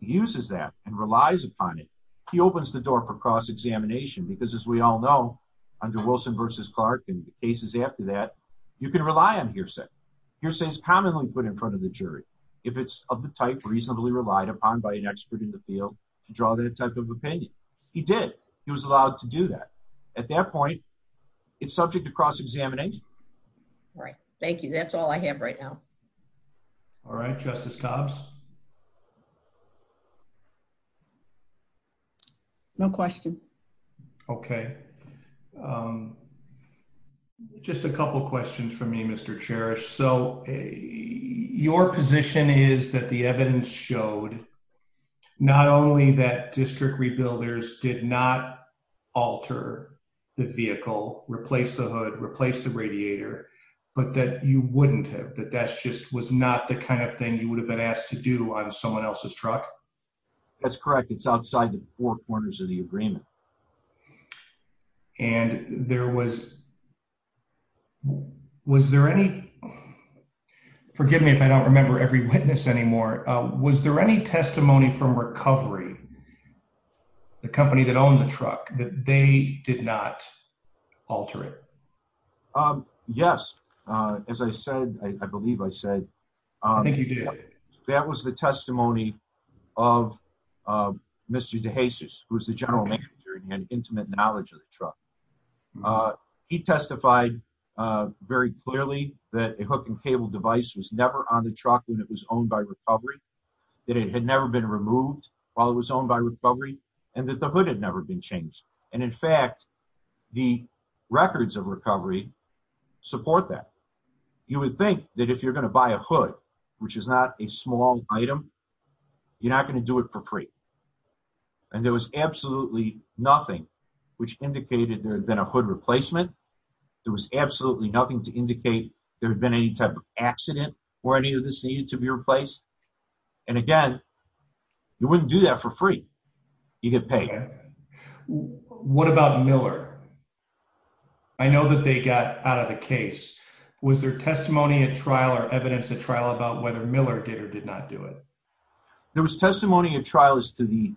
uses that and relies upon it, he opens the door for cross-examination. Because as we all know, under Wilson v. Clark and cases after that, you can rely on hearsay. Hearsay is commonly put in front of the jury if it's of the type reasonably relied upon by an expert in the field to draw that type of opinion. He did. He was allowed to do that. At that point, it's subject to cross-examination. Right. Thank you. That's all I have right now. All right. Justice Collins? No question. Okay. Just a couple questions for me, Mr. Cherish. Your position is that the evidence showed not only that district rebuilders did not alter the vehicle, replace the hood, replace the radiator, but that you wouldn't have, that that just was not the kind of thing you would have been asked to do. That's correct. It's outside the four corners of the agreement. And there was, was there any, forgive me if I don't remember every witness anymore, was there any testimony from recovery, the company that owned the truck, that they did not alter it? Yes. As I said, I believe I said. I think you did. That was the testimony of Mr. DeJesus, who was the general manager and had intimate knowledge of the truck. He testified very clearly that a hook and cable device was never on the truck when it was owned by recovery, that it had never been removed while it was owned by recovery, and that the hood had never been changed. And in fact, the records of recovery support that. You would think that if you're going to buy a hood, which is not a small item, you're not going to do it for free. And there was absolutely nothing which indicated there had been a hood replacement. There was absolutely nothing to indicate there had been any type of accident or any of this needed to be replaced. And again, you wouldn't do that for free. You get paid. What about Miller? I know that they got out of the case. Was there testimony at trial or evidence at trial about whether Miller did or did not do it? There was testimony at trial as to the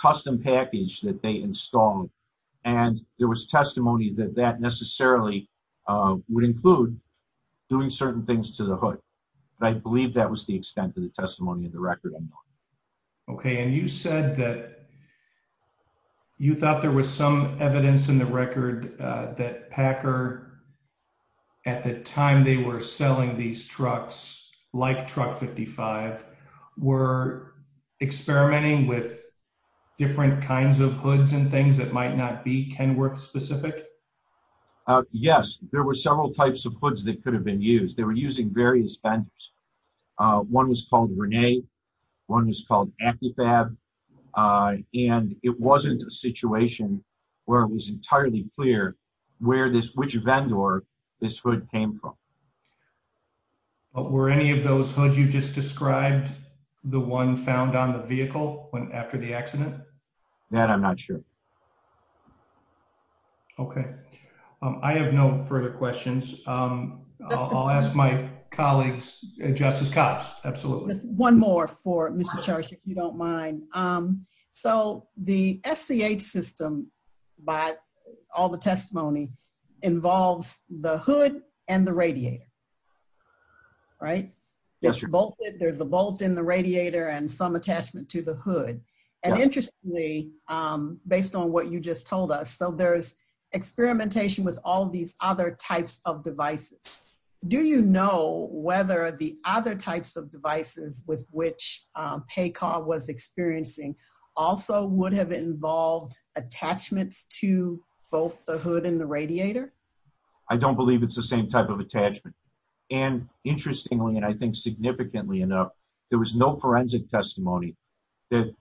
custom package that they installed, and there was testimony that that necessarily would include doing certain things to the hood. I believe that was the extent of the testimony in the record. Okay. And you said that you thought there was some evidence in the record that Packer, at the time they were selling these trucks, like Truck 55, were experimenting with different kinds of hoods and things that might not be Kenworth specific? Yes, there were several types of hoods that could have been used. They were using various vents. One was called Rene, one was called Amplifab, and it wasn't a situation where it was entirely clear which vent or this hood came from. Were any of those hoods you just described the one found on the vehicle after the accident? That I'm not sure. Okay. I have no further questions. I'll ask my colleagues, Justice Cox, absolutely. One more for Mr. Charge, if you don't mind. So the SCH system, by all the testimony, involves the hood and the radiator. Right? There's the bolt in the radiator and some attachment to the hood. And interestingly, based on what you just told us, so there's experimentation with all these other types of devices. Do you know whether the other types of devices with which Packer was experiencing also would have involved attachments to both the hood and the radiator? I don't believe it's the same type of attachment. And interestingly, and I think significantly enough, there was no forensic testimony that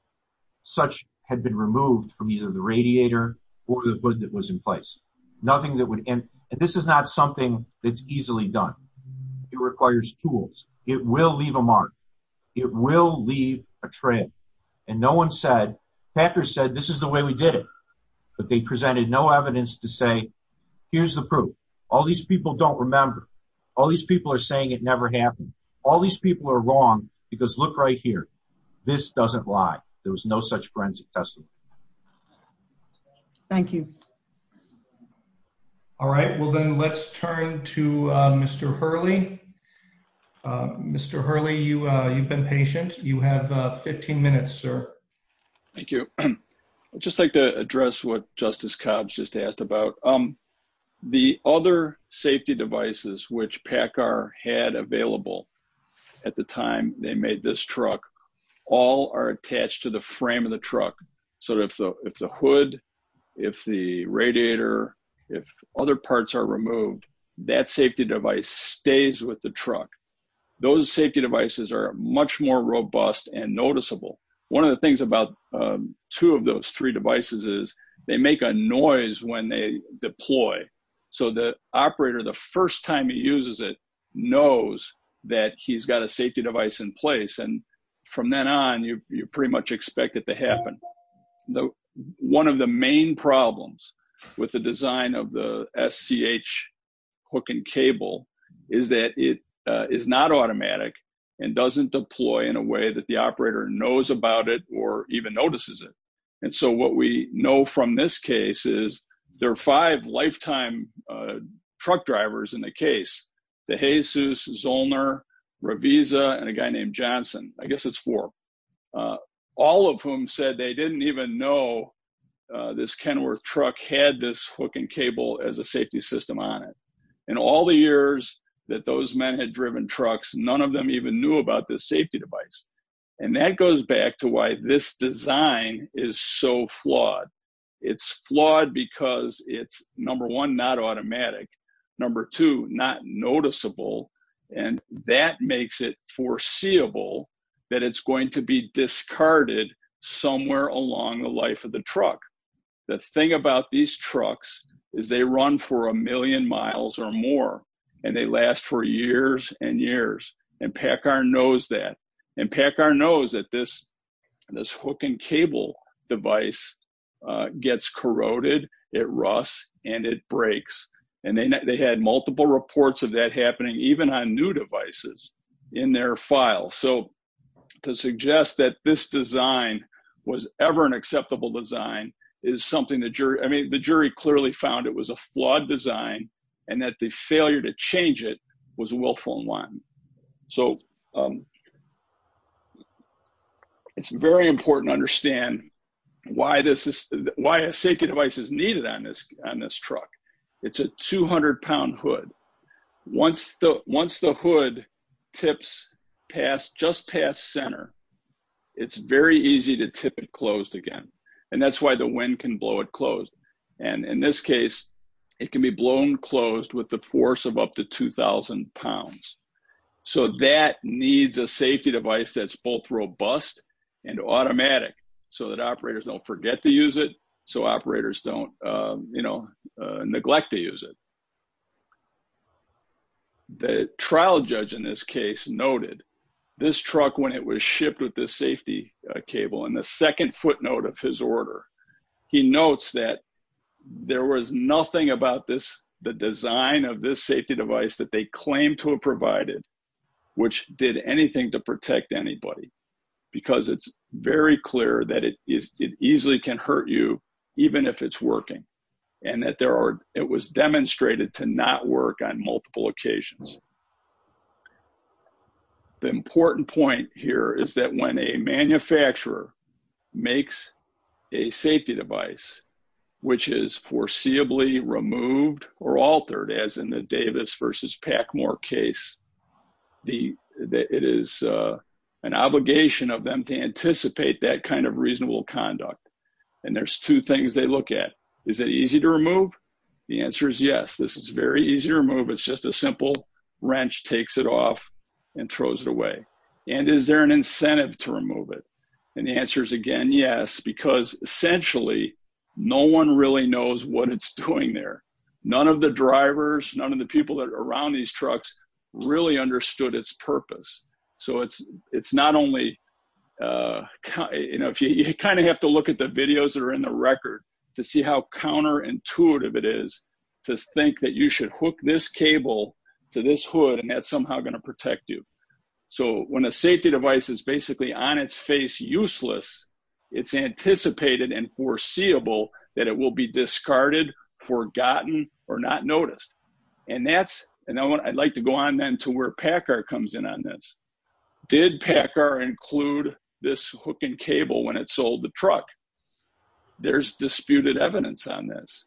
such had been removed from either the radiator or the hood that was in place. And this is not something that's easily done. It requires tools. It will leave a mark. It will leave a trail. And no one said, Packer said, this is the way we did it. But they presented no evidence to say, here's the proof. All these people don't remember. All these people are saying it never happened. All these people are wrong because look right here. This doesn't lie. There was no such forensic testimony. Thank you. All right. Well, then let's turn to Mr. Hurley. Mr. Hurley, you've been patient. You have 15 minutes, sir. Thank you. I'd just like to address what Justice Cobbs just asked about. The other safety devices which Packer had available at the time they made this truck, all are attached to the frame of the truck. So if the hood, if the radiator, if other parts are removed, that safety device stays with the truck. Those safety devices are much more robust and noticeable. One of the things about two of those three devices is they make a noise when they deploy. So the operator, the first time he uses it, knows that he's got a safety device in place. And from then on, you pretty much expect it to happen. One of the main problems with the design of the SCH hook and cable is that it is not automatic and doesn't deploy in a way that the operator knows about it or even notices it. And so what we know from this case is there are five lifetime truck drivers in the case. DeJesus, Zollner, Raviza, and a guy named Johnson. I guess it's four. All of whom said they didn't even know this Kenworth truck had this hook and cable as a safety system on it. In all the years that those men had driven trucks, none of them even knew about this safety device. And that goes back to why this design is so flawed. It's flawed because it's number one, not automatic. Number two, not noticeable. And that makes it foreseeable that it's going to be discarded somewhere along the life of the truck. The thing about these trucks is they run for a million miles or more and they last for years and years. And PACCAR knows that. And PACCAR knows that this hook and cable device gets corroded, it rusts, and it breaks. And they had multiple reports of that happening even on new devices in their file. So to suggest that this design was ever an acceptable design is something that the jury clearly found it was a flawed design and that the failure to change it was willful and wanton. So it's very important to understand why a safety device is needed on this truck. It's a 200-pound hood. Once the hood tips just past center, it's very easy to tip it closed again. And that's why the wind can blow it closed. And in this case, it can be blown closed with the force of up to 2,000 pounds. So that needs a safety device that's both robust and automatic so that operators don't forget to use it, so operators don't neglect to use it. The trial judge in this case noted this truck, when it was shipped with the safety cable, in the second footnote of his order, he notes that there was nothing about the design of this safety device that they claimed to have provided which did anything to protect anybody. Because it's very clear that it easily can hurt you even if it's working. And that it was demonstrated to not work on multiple occasions. The important point here is that when a manufacturer makes a safety device which is foreseeably removed or altered, as in the Davis versus Packmore case, it is an obligation of them to anticipate that kind of reasonable conduct. And there's two things they look at. Is it easy to remove? The answer is yes. This is very easy to remove. It's just a simple wrench takes it off and throws it away. And is there an incentive to remove it? And the answer is again, yes, because essentially no one really knows what it's doing there. None of the drivers, none of the people that are around these trucks really understood its purpose. So it's not only, you kind of have to look at the videos that are in the record to see how counterintuitive it is to think that you should hook this cable to this hood and that's somehow going to protect you. So when a safety device is basically on its face useless, it's anticipated and foreseeable that it will be discarded, forgotten, or not noticed. And that's, and I'd like to go on then to where Packer comes in on this. Did Packer include this hook and cable when it sold the truck? There's disputed evidence on this.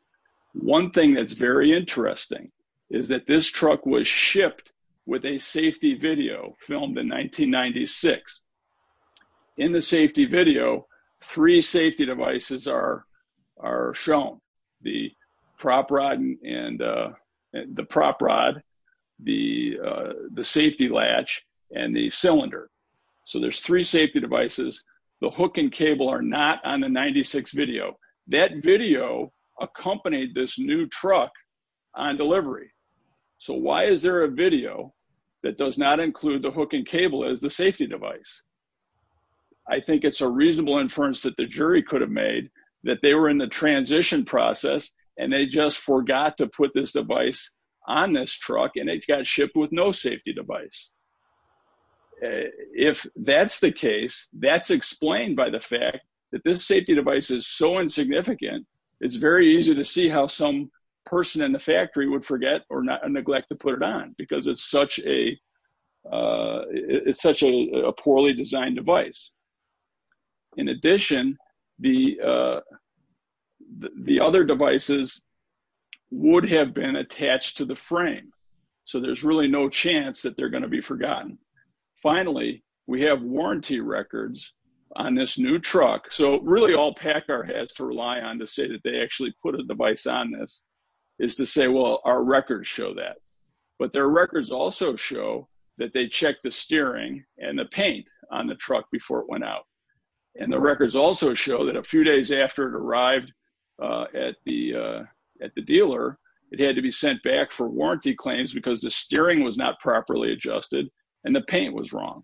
One thing that's very interesting is that this truck was shipped with a safety video filmed in 1996. In the safety video, three safety devices are shown. The prop rod, the safety latch, and the cylinder. So there's three safety devices. The hook and cable are not on the 96 video. That video accompanied this new truck on delivery. So why is there a video that does not include the hook and cable as the safety device? I think it's a reasonable inference that the jury could have made that they were in the transition process and they just forgot to put this device on this truck and it got shipped with no safety device. If that's the case, that's explained by the fact that this safety device is so insignificant, it's very easy to see how some person in the factory would forget or neglect to put it on because it's such a poorly designed device. In addition, the other devices would have been attached to the frame. So there's really no chance that they're going to be forgotten. Finally, we have warranty records on this new truck. So really all PACCAR has to rely on to say that they actually put a device on this is to say, well, our records show that. But their records also show that they checked the steering and the paint on the truck before it went out. And the records also show that a few days after it arrived at the dealer, it had to be sent back for warranty claims because the steering was not properly adjusted and the paint was wrong.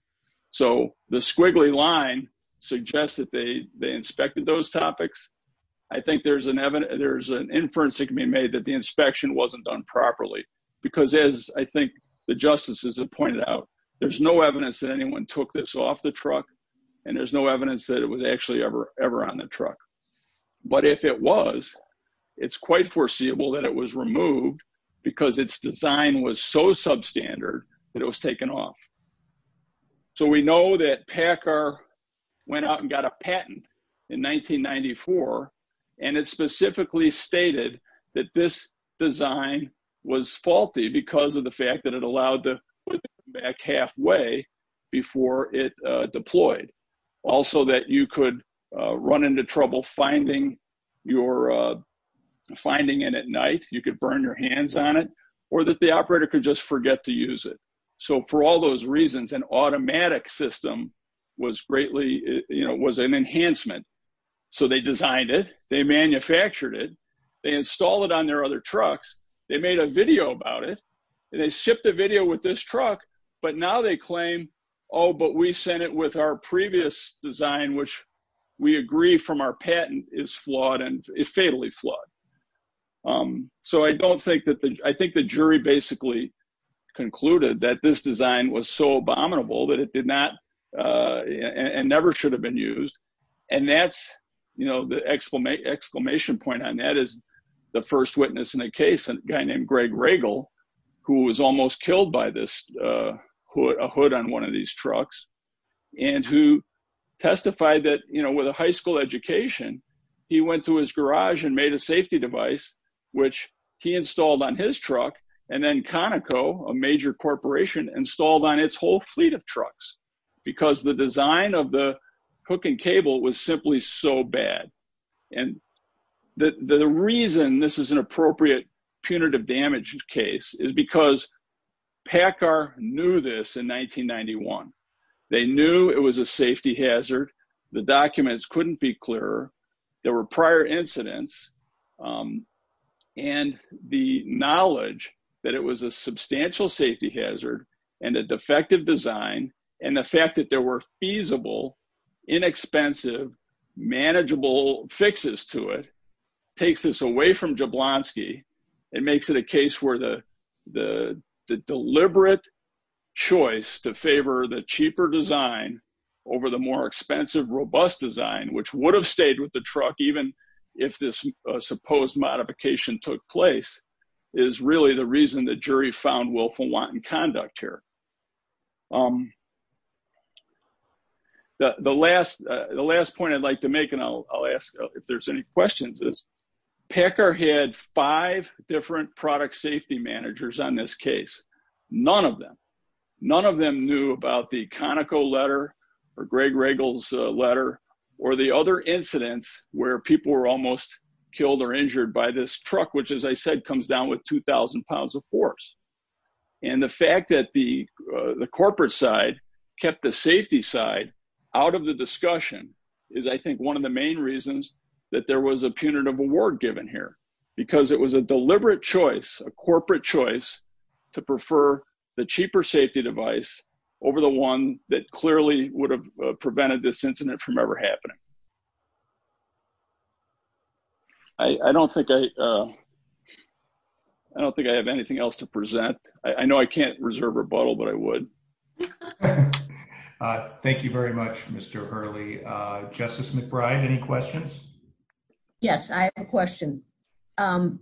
So the squiggly line suggests that they inspected those topics. I think there's an inference that can be made that the inspection wasn't done properly. Because as I think the justices have pointed out, there's no evidence that anyone took this off the truck and there's no evidence that it was actually ever on the truck. But if it was, it's quite foreseeable that it was removed because its design was so substandard that it was taken off. So we know that PACCAR went out and got a patent in 1994 and it specifically stated that this design was faulty because of the fact that it allowed the vehicle to be shipped back halfway before it deployed. Also that you could run into trouble finding it at night, you could burn your hands on it, or that the operator could just forget to use it. So for all those reasons, an automatic system was an enhancement. So they designed it, they manufactured it, they installed it on their other trucks, they made a video about it, they shipped the video with this truck. But now they claim, oh, but we sent it with our previous design, which we agree from our patent is fatally flawed. So I think the jury basically concluded that this design was so abominable that it did not and never should have been used. And that's the exclamation point on that is the first witness in the case, a guy named Greg Regal, who was almost killed by a hood on one of these trucks. And who testified that, you know, with a high school education, he went to his garage and made a safety device, which he installed on his truck, and then Conoco, a major corporation, installed on its whole fleet of trucks. Because the design of the hook and cable was simply so bad. And the reason this is an appropriate punitive damage case is because PACCAR knew this in 1991. They knew it was a safety hazard. The documents couldn't be clearer. There were prior incidents. And the knowledge that it was a substantial safety hazard and a defective design, and the fact that there were feasible, inexpensive, manageable fixes to it, takes this away from Jablonski and makes it a case where the deliberate choice to favor the cheaper design over the more expensive, robust design, which would have stayed with the truck, even if this supposed modification took place, is really the reason the jury found willful wanton conduct here. The last point I'd like to make, and I'll ask if there's any questions, is PACCAR had five different product safety managers on this case. None of them. None of them knew about the Conoco letter or Greg Regal's letter or the other incidents where people were almost killed or injured by this truck, which, as I said, comes down with 2,000 pounds of force. And the fact that the corporate side kept the safety side out of the discussion is, I think, one of the main reasons that there was a punitive award given here. Because it was a deliberate choice, a corporate choice, to prefer the cheaper safety device over the one that clearly would have prevented this incident from ever happening. I don't think I have anything else to present. I know I can't reserve a bottle, but I would. Thank you very much, Mr. Hurley. Justice McBride, any questions? Yes, I have a question. Mr.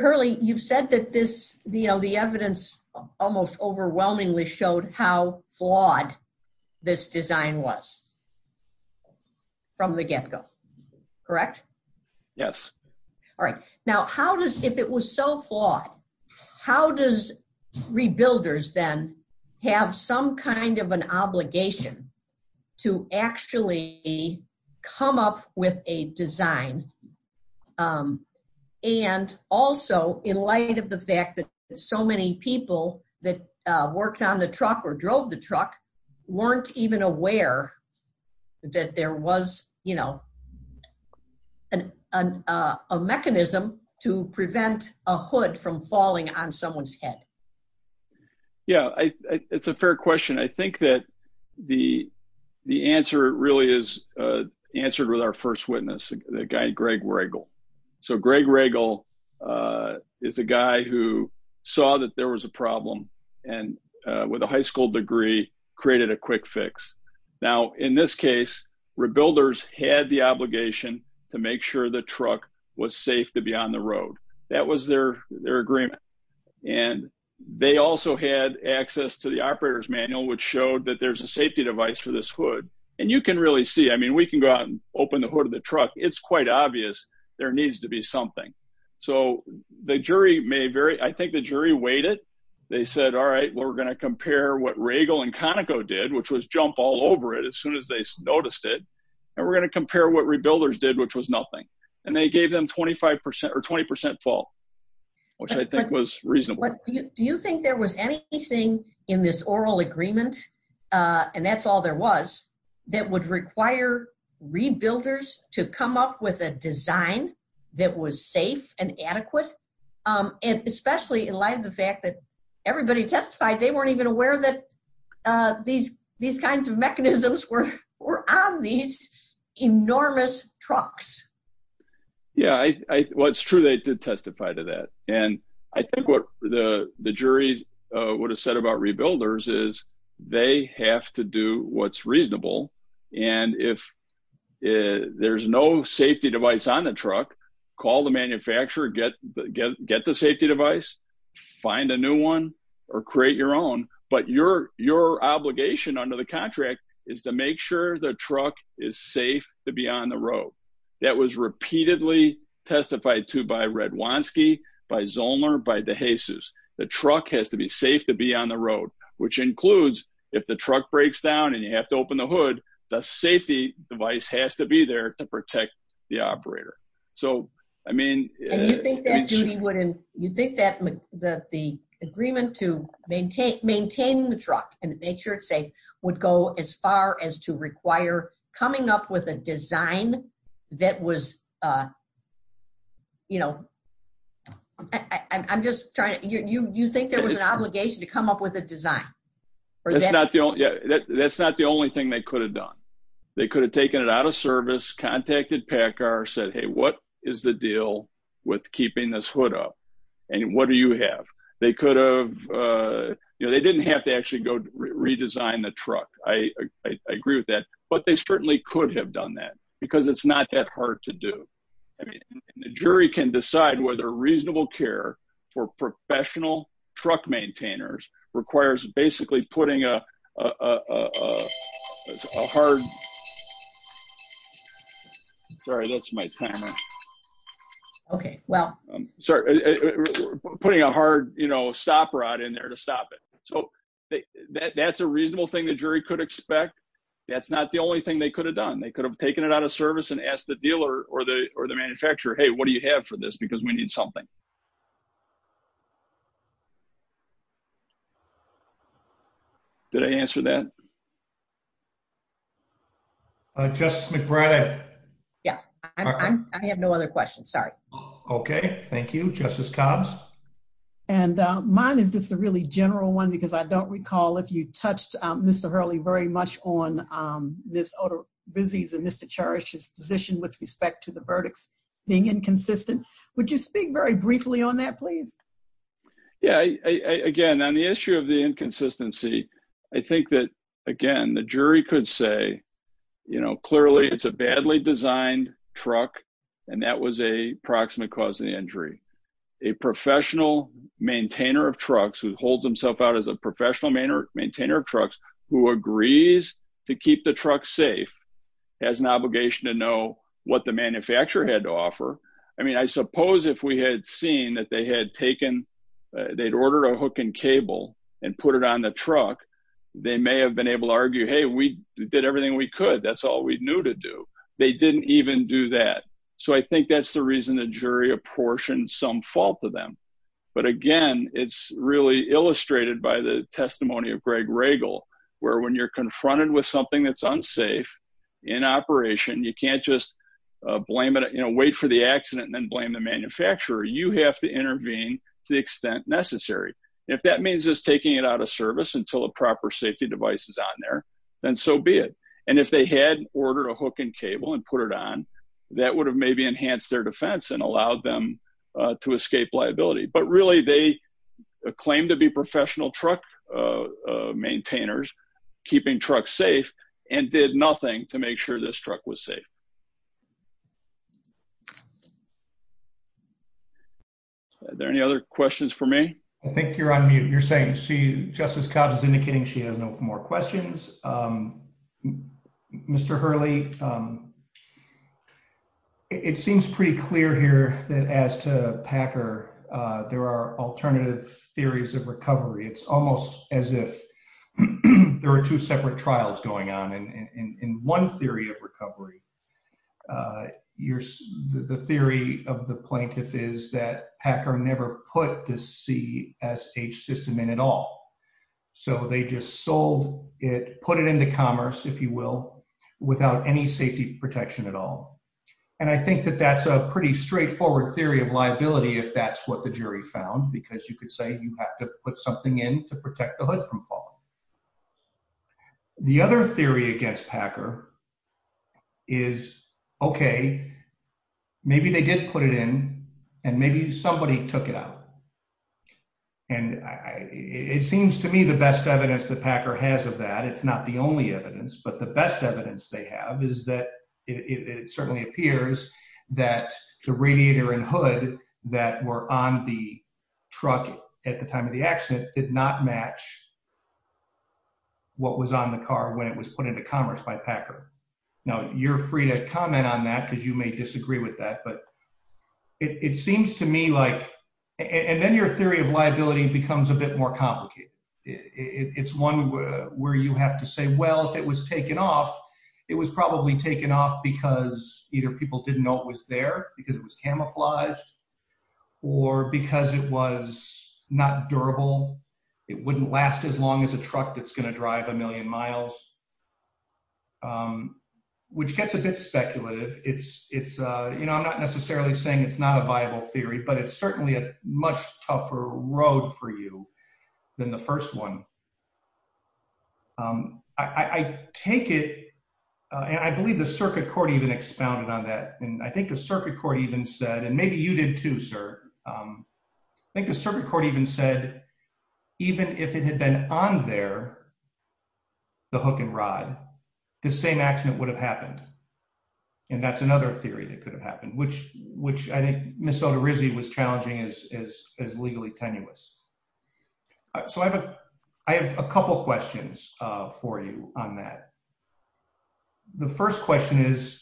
Hurley, you've said that the evidence almost overwhelmingly showed how flawed this design was from the get-go. Correct? Yes. All right. Now, if it was so flawed, how does Rebuilders then have some kind of an obligation to actually come up with a design? And also, in light of the fact that so many people that worked on the truck or drove the truck weren't even aware that there was, you know, a mechanism to prevent a hood from falling on someone's head. Yeah, it's a fair question. I think that the answer really is answered with our first witness, the guy Greg Regal. So, Greg Regal is a guy who saw that there was a problem and, with a high school degree, created a quick fix. Now, in this case, Rebuilders had the obligation to make sure the truck was safe to be on the road. That was their agreement. And they also had access to the operator's manual, which showed that there's a safety device for this hood. And you can really see, I mean, we can go out and open the hood of the truck. It's quite obvious there needs to be something. So, I think the jury weighed it. They said, all right, we're going to compare what Regal and Conoco did, which was jump all over it as soon as they noticed it, and we're going to compare what Rebuilders did, which was nothing. And they gave them 25% or 20% fault, which I think was reasonable. Do you think there was anything in this oral agreement, and that's all there was, that would require Rebuilders to come up with a design that was safe and adequate? Especially in light of the fact that everybody testified they weren't even aware that these kinds of mechanisms were on these enormous trucks. Yeah, well, it's true they did testify to that. And I think what the jury would have said about Rebuilders is they have to do what's reasonable. And if there's no safety device on the truck, call the manufacturer, get the safety device, find a new one, or create your own. But your obligation under the contract is to make sure the truck is safe to be on the road. That was repeatedly testified to by Redwanski, by Zoellner, by DeJesus. The truck has to be safe to be on the road, which includes if the truck breaks down and you have to open the hood, the safety device has to be there to protect the operator. And you think that the agreement to maintain the truck and make sure it's safe would go as far as to require coming up with a design that was, you know, I'm just trying to, you think there was an obligation to come up with a design? That's not the only thing they could have done. They could have taken it out of service, contacted PACCAR, said, hey, what is the deal with keeping this hood up? And what do you have? They didn't have to actually go redesign the truck. I agree with that. But they certainly could have done that, because it's not that hard to do. The jury can decide whether reasonable care for professional truck maintainers requires basically putting a hard stop rod in there to stop it. So that's a reasonable thing the jury could expect. That's not the only thing they could have done. They could have taken it out of service and asked the dealer or the manufacturer, hey, what do you have for this? Because we need something. Did I answer that? Justice McBride? Yeah. I have no other questions. Sorry. Okay. Thank you. Justice Combs? Yes. And mine is just a really general one, because I don't recall if you touched, Mr. Hurley, very much on Ms. Otter Bussey's and Mr. Cherish's position with respect to the verdicts being inconsistent. Would you speak very briefly on that, please? Yeah. Again, on the issue of the inconsistency, I think that, again, the jury could say, you know, clearly it's a badly designed truck, and that was a proximate cause of the injury. A professional maintainer of trucks who holds himself out as a professional maintainer of trucks who agrees to keep the truck safe has an obligation to know what the manufacturer had to offer. I mean, I suppose if we had seen that they had ordered a hook and cable and put it on the truck, they may have been able to argue, hey, we did everything we could. That's all we knew to do. They didn't even do that. So I think that's the reason the jury apportioned some fault to them. But again, it's really illustrated by the testimony of Greg Regal, where when you're confronted with something that's unsafe in operation, you can't just blame it and wait for the accident and then blame the manufacturer. You have to intervene to the extent necessary. If that means just taking it out of service until a proper safety device is on there, then so be it. And if they had ordered a hook and cable and put it on, that would have maybe enhanced their defense and allowed them to escape liability. But really, they claim to be professional truck maintainers, keeping trucks safe, and did nothing to make sure this truck was safe. Are there any other questions for me? I think you're on mute. You're saying Justice Cox is indicating she has no more questions. Mr. Hurley, it seems pretty clear here that as to Packer, there are alternative theories of recovery. It's almost as if there are two separate trials going on. In one theory of recovery, the theory of the plaintiff is that Packer never put the CSH system in at all. So they just sold it, put it into commerce, if you will, without any safety protection at all. And I think that that's a pretty straightforward theory of liability if that's what the jury found, because you could say you have to put something in to protect the hood from falling. The other theory against Packer is, okay, maybe they did put it in, and maybe somebody took it out. And it seems to me the best evidence that Packer has of that, it's not the only evidence, but the best evidence they have is that it certainly appears that the radiator and hood that were on the truck at the time of the accident did not match what was on the car when it was put into commerce by Packer. Now, you're free to comment on that because you may disagree with that, but it seems to me like... And then your theory of liability becomes a bit more complicated. It's one where you have to say, well, if it was taken off, it was probably taken off because either people didn't know it was there, because it was camouflaged, or because it was not durable. It wouldn't last as long as a truck that's going to drive a million miles. Which gets a bit speculative. You know, I'm not necessarily saying it's not a viable theory, but it's certainly a much tougher road for you than the first one. I take it, and I believe the circuit court even expounded on that, and I think the circuit court even said, and maybe you did too, sir. I think the circuit court even said, even if it had been on there, the hook and rod, the same accident would have happened. And that's another theory that could have happened, which I think Ms. Sotorizzi was challenging as legally tenuous. So I have a couple questions for you on that. The first question is,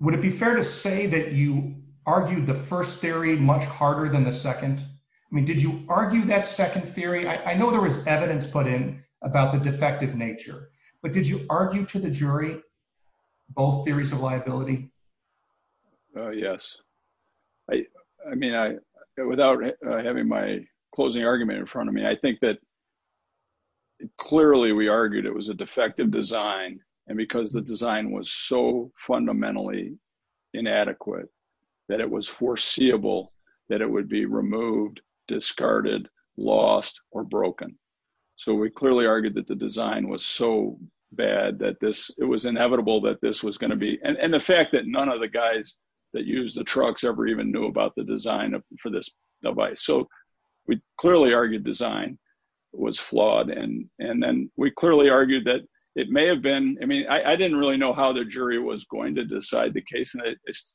would it be fair to say that you argued the first theory much harder than the second? I mean, did you argue that second theory? I know there was evidence put in about the defective nature, but did you argue to the jury both theories of liability? Yes. I mean, without having my closing argument in front of me, I think that clearly we argued it was a defective design. And because the design was so fundamentally inadequate that it was foreseeable that it would be removed, discarded, lost, or broken. So we clearly argued that the design was so bad that it was inevitable that this was going to be. And the fact that none of the guys that use the trucks ever even knew about the design for this device. So we clearly argued design was flawed. And then we clearly argued that it may have been. I mean, I didn't really know how the jury was going to decide the case. And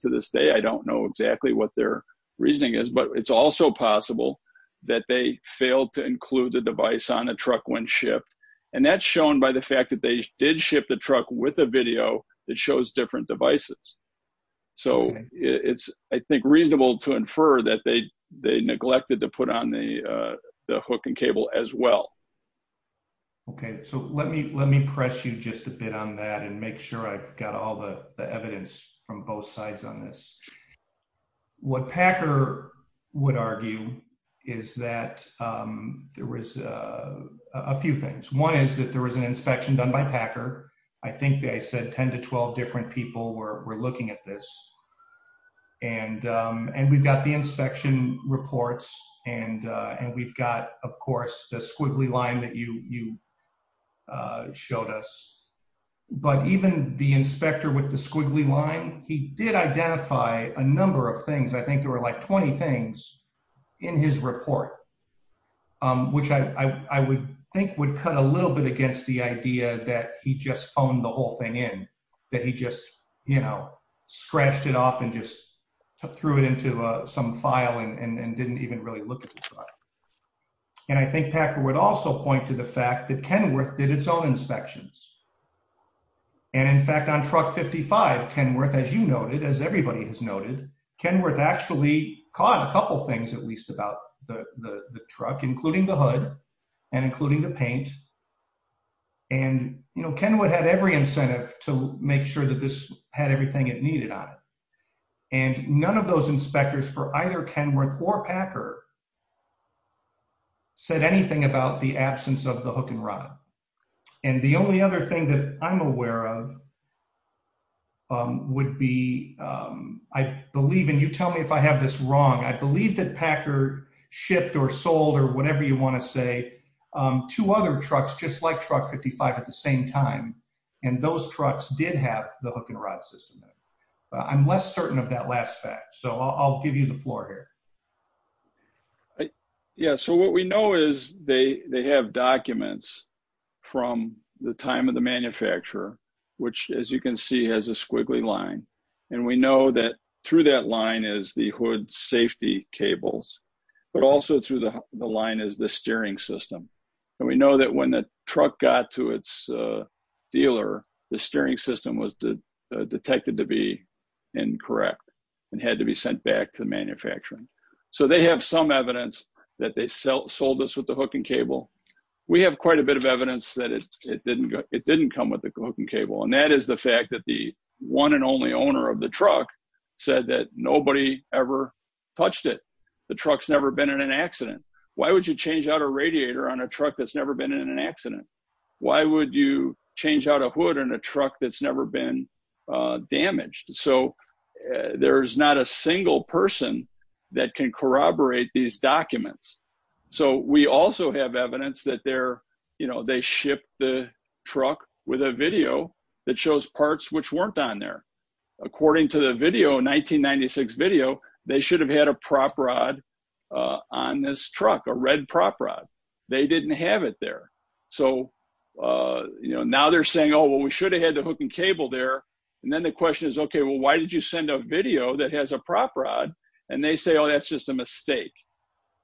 to this day, I don't know exactly what their reasoning is. But it's also possible that they failed to include the device on a truck when shipped. And that's shown by the fact that they did ship the truck with a video that shows different devices. So it's, I think, reasonable to infer that they neglected to put on the hook and cable as well. Okay, so let me press you just a bit on that and make sure I've got all the evidence from both sides on this. What Packer would argue is that there was a few things. One is that there was an inspection done by Packer. I think they said 10 to 12 different people were looking at this. And we've got the inspection reports. And we've got, of course, the squiggly line that you showed us. But even the inspector with the squiggly line, he did identify a number of things. I think there were like 20 things in his report, which I would think would cut a little bit against the idea that he just phoned the whole thing in. That he just, you know, scratched it off and just threw it into some file and didn't even really look at the product. And I think Packer would also point to the fact that Kenworth did its own inspections. And, in fact, on Truck 55, Kenworth, as you noted, as everybody has noted, Kenworth actually caught a couple things, at least, about the truck, including the hood and including the paint. And, you know, Kenworth had every incentive to make sure that this had everything it needed on it. And none of those inspectors for either Kenworth or Packer said anything about the absence of the hook and rod. And the only other thing that I'm aware of would be, I believe, and you tell me if I have this wrong, I believe that Packer shipped or sold or whatever you want to say, two other trucks just like Truck 55 at the same time. And those trucks did have the hook and rod system. I'm less certain of that last fact, so I'll give you the floor here. Yeah, so what we know is they have documents from the time of the manufacturer, which, as you can see, has a squiggly line. And we know that through that line is the hood safety cables, but also through the line is the steering system. And we know that when the truck got to its dealer, the steering system was detected to be incorrect and had to be sent back to the manufacturer. So they have some evidence that they sold this with the hook and cable. We have quite a bit of evidence that it didn't come with the hook and cable. And that is the fact that the one and only owner of the truck said that nobody ever touched it. The truck's never been in an accident. Why would you change out a radiator on a truck that's never been in an accident? Why would you change out a hood on a truck that's never been damaged? So there's not a single person that can corroborate these documents. So we also have evidence that they shipped the truck with a video that shows parts which weren't on there. According to the video, a 1996 video, they should have had a prop rod on this truck, a red prop rod. They didn't have it there. So now they're saying, oh, well, we should have had the hook and cable there. And then the question is, OK, well, why did you send a video that has a prop rod? And they say, oh, that's just a mistake.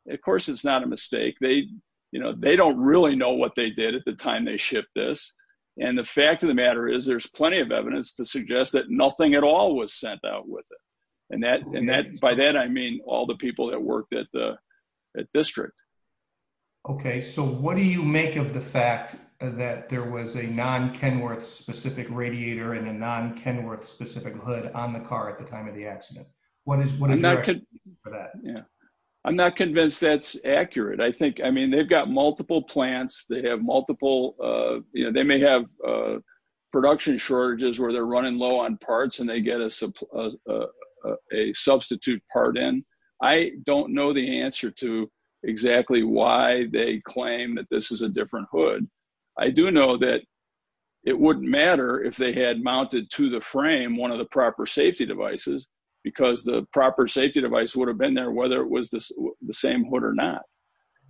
Of course, it's not a mistake. They don't really know what they did at the time they shipped this. And the fact of the matter is there's plenty of evidence to suggest that nothing at all was sent out with it. And by that, I mean all the people that worked at the district. OK, so what do you make of the fact that there was a non-Kenworth specific radiator and a non-Kenworth specific hood on the car at the time of the accident? I'm not convinced that's accurate. I mean, they've got multiple plants. They may have production shortages where they're running low on parts and they get a substitute part in. I don't know the answer to exactly why they claim that this is a different hood. I do know that it wouldn't matter if they had mounted to the frame one of the proper safety devices because the proper safety device would have been there whether it was the same hood or not.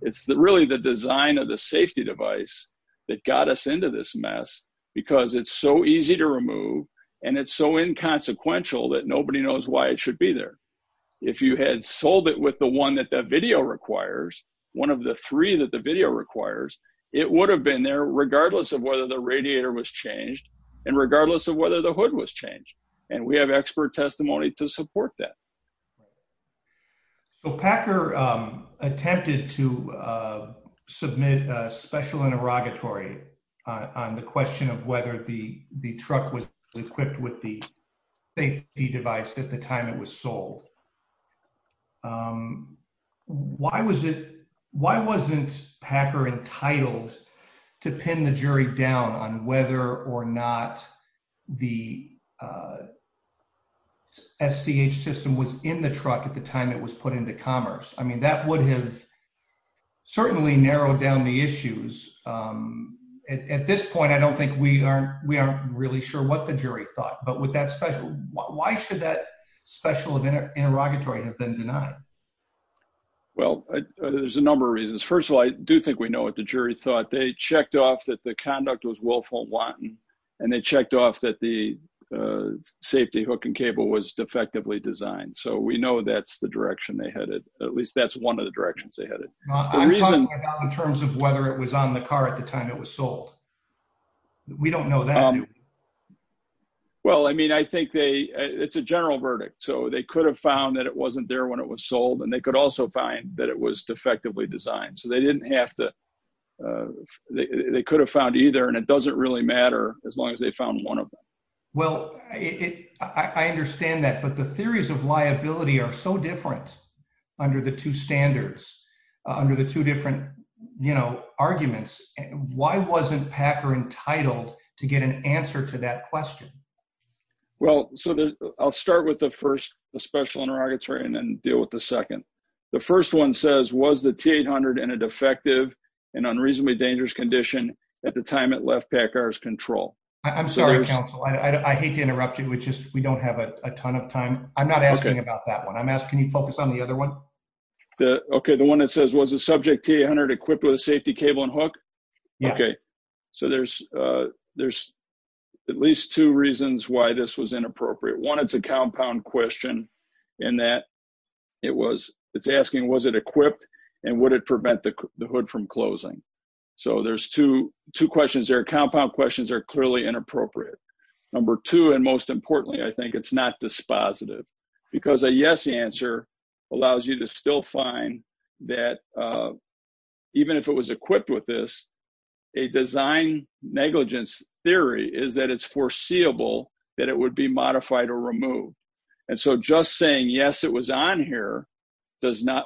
It's really the design of the safety device that got us into this mess because it's so easy to remove and it's so inconsequential that nobody knows why it should be there. If you had sold it with the one that the video requires, one of the three that the video requires, it would have been there regardless of whether the radiator was changed and regardless of whether the hood was changed. And we have expert testimony to support that. So, Packer attempted to submit a special interrogatory on the question of whether the truck was equipped with the safety device at the time it was sold. Why wasn't Packer entitled to pin the jury down on whether or not the SDH system was in the truck at the time it was put into commerce? I mean, that would have certainly narrowed down the issues. At this point, I don't think we aren't really sure what the jury thought. Why should that special interrogatory have been denied? Well, there's a number of reasons. First of all, I do think we know what the jury thought. They checked off that the conduct was willful and wanton and they checked off that the safety hook and cable was defectively designed. So, we know that's the direction they headed. At least that's one of the directions they headed. I'm talking about in terms of whether it was on the car at the time it was sold. We don't know that. Well, I mean, I think it's a general verdict. So, they could have found that it wasn't there when it was sold and they could also find that it was defectively designed. So, they didn't have to, they could have found either and it doesn't really matter as long as they found one of them. Well, I understand that, but the theories of liability are so different under the two standards, under the two different arguments. Why wasn't Packer entitled to get an answer to that question? Well, I'll start with the first special interrogatory and then deal with the second. The first one says, was the T-800 in a defective and unreasonably dangerous condition at the time it left Packer's control? I'm sorry, counsel. I hate to interrupt you, but we don't have a ton of time. I'm not asking about that one. Can you focus on the other one? Okay, the one that says, was the subject T-800 equipped with a safety cable and hook? So, there's at least two reasons why this was inappropriate. One, it's a compound question in that it's asking, was it equipped and would it prevent the hood from closing? So, there's two questions there. Compound questions are clearly inappropriate. Number two, and most importantly, I think it's not dispositive because a yes answer allows you to still find that even if it was equipped with this, a design negligence theory is that it's foreseeable that it would be modified or removed. And so, just saying yes, it was on here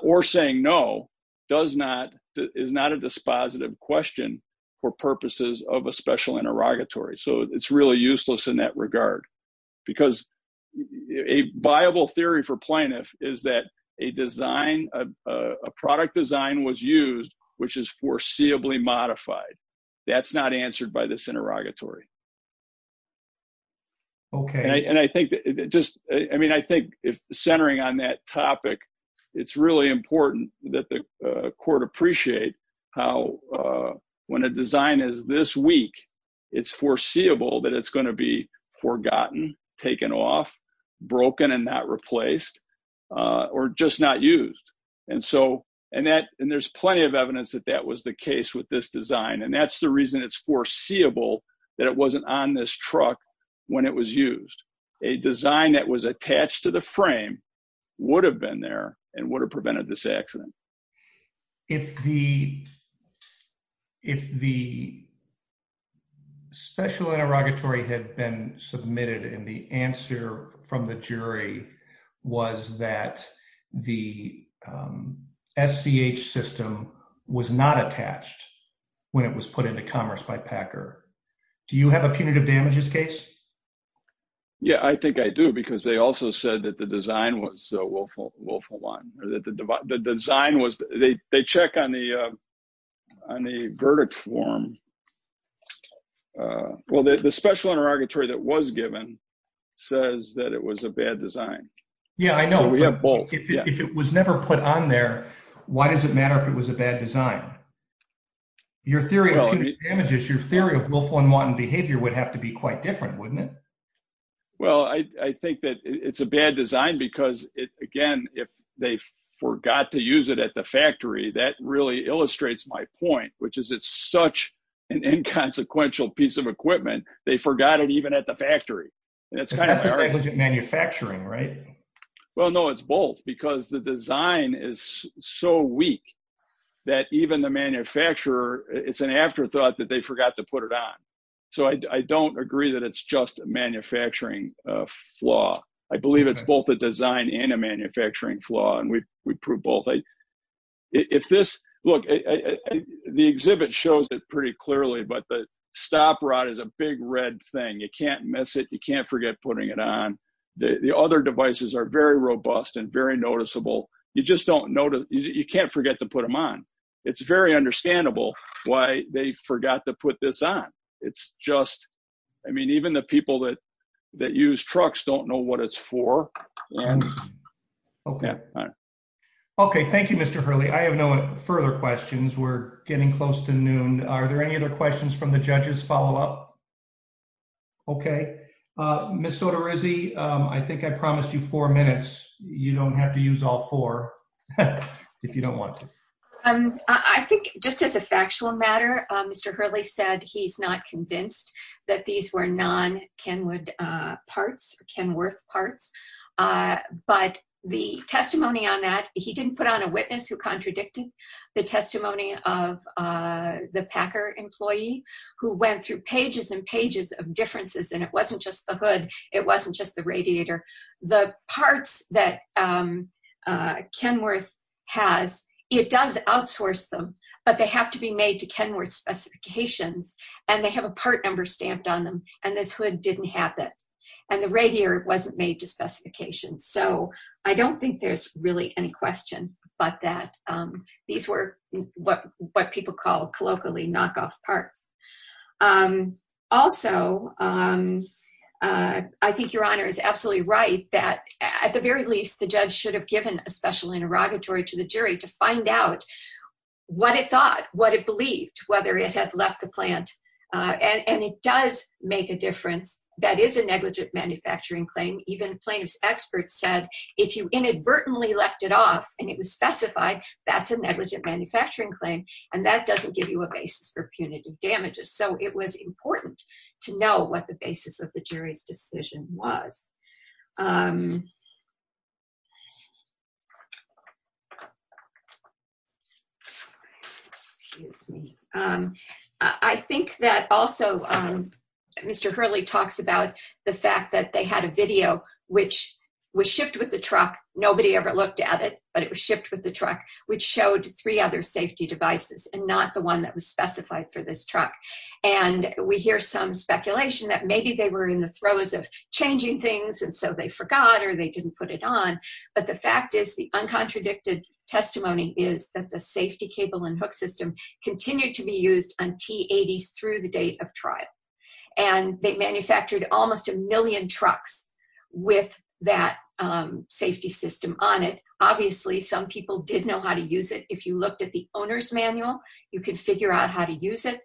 or saying no is not a dispositive question for purposes of a special interrogatory. So, it's really useless in that regard because a viable theory for plaintiff is that a product design was used, which is foreseeably modified. That's not answered by this interrogatory. Okay. And I think just, I mean, I think centering on that topic, it's really important that the court appreciate how when a design is this weak, it's foreseeable that it's going to be forgotten, taken off, broken and not replaced, or just not used. And so, and there's plenty of evidence that that was the case with this design. And that's the reason it's foreseeable that it wasn't on this truck when it was used. A design that was attached to the frame would have been there and would have prevented this accident. If the special interrogatory had been submitted and the answer from the jury was that the SCH system was not attached when it was put into commerce by Packer, do you have a punitive damages case? Yeah, I think I do, because they also said that the design was Wolf One. The design was, they check on the verdict form. Well, the special interrogatory that was given says that it was a bad design. Yeah, I know. We have both. Well, I think that it's a bad design because, again, if they forgot to use it at the factory, that really illustrates my point, which is it's such an inconsequential piece of equipment. They forgot it even at the factory. It's kind of hard. Manufacturing, right? Well, no, it's both. Because the design is so weak that even the manufacturer, it's an afterthought that they forgot to put it on. So I don't agree that it's just a manufacturing flaw. I believe it's both a design and a manufacturing flaw, and we prove both. Look, the exhibit shows it pretty clearly, but the stop rod is a big red thing. You can't miss it. You can't forget putting it on. The other devices are very robust and very noticeable. You just don't notice, you can't forget to put them on. It's very understandable why they forgot to put this on. It's just, I mean, even the people that use trucks don't know what it's for. Okay. Okay. Thank you, Mr. Hurley. I have no further questions. We're getting close to noon. Are there any other questions from the judges? Follow up? Okay. Ms. Sotorizzi, I think I promised you four minutes. You don't have to use all four if you don't want to. I think just as a factual matter, Mr. Hurley said he's not convinced that these were non-Kenwood parts, Kenworth parts. But the testimony on that, he didn't put on a witness who contradicted the testimony of the Packer employee, who went through pages and pages of differences, and it wasn't just the hood. It wasn't just the radiator. The parts that Kenworth has, it does outsource them, but they have to be made to Kenworth specifications, and they have a part number stamped on them, and this hood didn't have that. And the radiator wasn't made to specification. So I don't think there's really any question but that these were what people call colloquially knockoff parts. Also, I think Your Honor is absolutely right that at the very least, the judge should have given a special interrogatory to the jury to find out what it thought, what it believed, whether it had left the plant. And it does make a difference. That is a negligent manufacturing claim. Even plaintiff's expert said, if you inadvertently left it off and it was specified, that's a negligent manufacturing claim, and that doesn't give you a basis for punitive damages. So it was important to know what the basis of the jury's decision was. I think that also Mr. Hurley talks about the fact that they had a video which was shipped with the truck. Nobody ever looked at it, but it was shipped with the truck, which showed three other safety devices and not the one that was specified for this truck. And we hear some speculation that maybe they were in the throes of changing things and so they forgot or they didn't put it on. But the fact is, the uncontradicted testimony is that the safety cable and hook system continued to be used on T-80 through the date of trial. And they manufactured almost a million trucks with that safety system on it. Obviously, some people didn't know how to use it. If you looked at the owner's manual, you could figure out how to use it.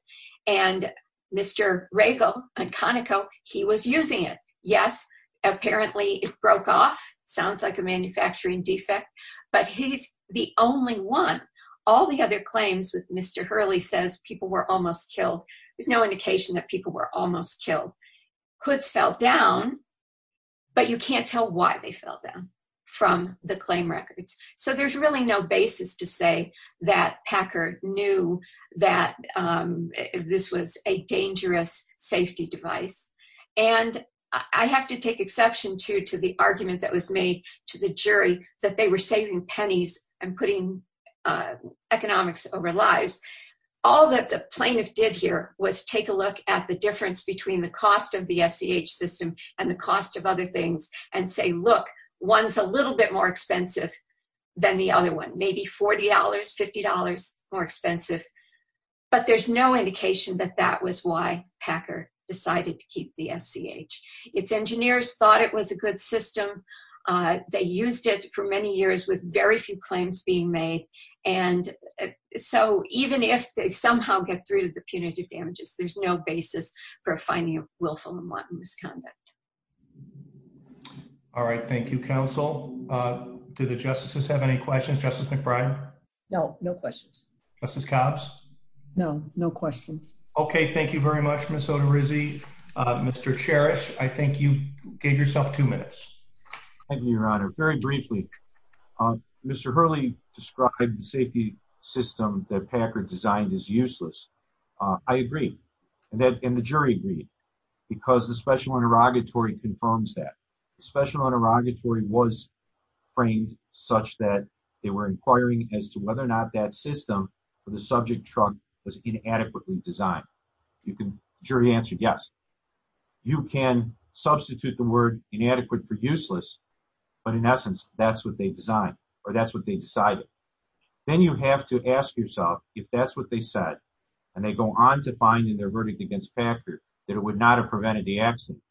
And Mr. Rago and Conoco, he was using it. Yes, apparently it broke off. Sounds like a manufacturing defect. But he's the only one. All the other claims with Mr. Hurley says people were almost killed. There's no indication that people were almost killed. Hooks fell down, but you can't tell why they fell down from the claim records. So there's really no basis to say that Packard knew that this was a dangerous safety device. And I have to take exception to the argument that was made to the jury that they were saving pennies and putting economics over lives. All that the plaintiff did here was take a look at the difference between the cost of the SEH system and the cost of other things and say, look, one's a little bit more expensive than the other one, maybe $40, $50 more expensive. But there's no indication that that was why Packard decided to keep the SEH. Its engineers thought it was a good system. They used it for many years with very few claims being made. And so even if they somehow get through the punitive damages, there's no basis for finding a willful and wanton misconduct. All right. Thank you, counsel. Do the justices have any questions? Justice McBride? No, no questions. Justice Cobbs? No, no questions. Okay. Thank you very much, Ms. Oterizzi. Mr. Cherish, I think you gave yourself two minutes. Thank you, Your Honor. Very briefly, Mr. Hurley described the safety system that Packard designed as useless. I agree. And the jury agreed because the special interrogatory confirms that. The special interrogatory was framed such that they were inquiring as to whether or not that system for the subject trunk was inadequately designed. The jury answered yes. You can substitute the word inadequate for useless, but in essence, that's what they designed or that's what they decided. Then you have to ask yourself if that's what they said, and they go on to find in their verdict against Packard that it would not have prevented the accident.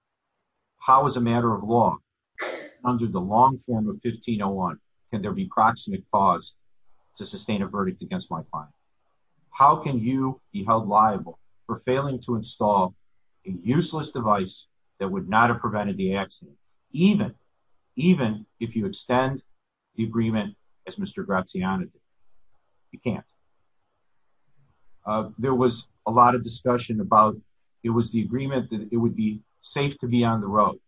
How is a matter of law under the long form of 1501 can there be proximate cause to sustain a verdict against my client? How can you be held liable for failing to install a useless device that would not have prevented the accident, even if you extend the agreement as Mr. Graziano did? You can't. There was a lot of discussion about it was the agreement that it would be safe to be on the road.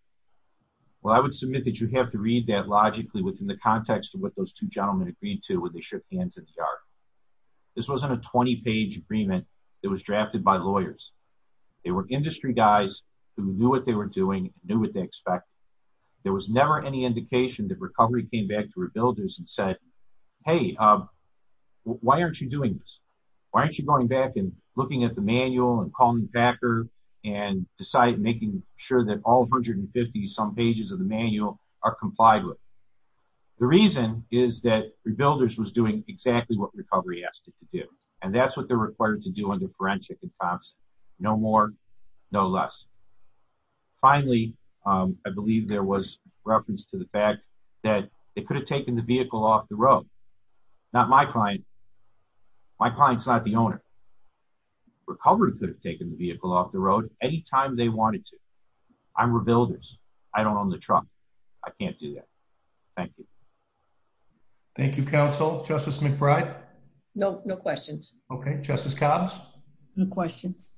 Well, I would submit that you have to read that logically within the context of what those two gentlemen agreed to when they shook hands in the yard. This wasn't a 20-page agreement that was drafted by lawyers. They were industry guys who knew what they were doing, knew what they expected. There was never any indication that recovery came back to Rebuilders and said, hey, why aren't you doing this? Why aren't you going back and looking at the manual and calling Packard and making sure that all 150-some pages of the manual are complied with? The reason is that Rebuilders was doing exactly what Recovery asked it to do, and that's what they're required to do under forensic. No more, no less. Finally, I believe there was reference to the fact that they could have taken the vehicle off the road. Not my client. My client's not the owner. Recovery could have taken the vehicle off the road any time they wanted to. I'm Rebuilders. I don't own the truck. I can't do that. Thank you. Thank you, counsel. Justice McBride? No, no questions. Okay. Justice Cobbs? No questions.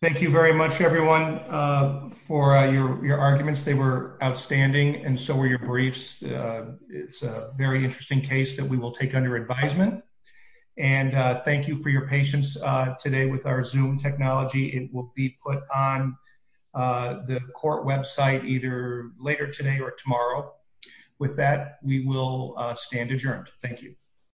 Thank you very much, everyone, for your arguments. They were outstanding, and so were your briefs. It's a very interesting case that we will take under advisement. And thank you for your patience today with our Zoom technology. It will be put on the court website either later today or tomorrow. With that, we will stand adjourned. Thank you.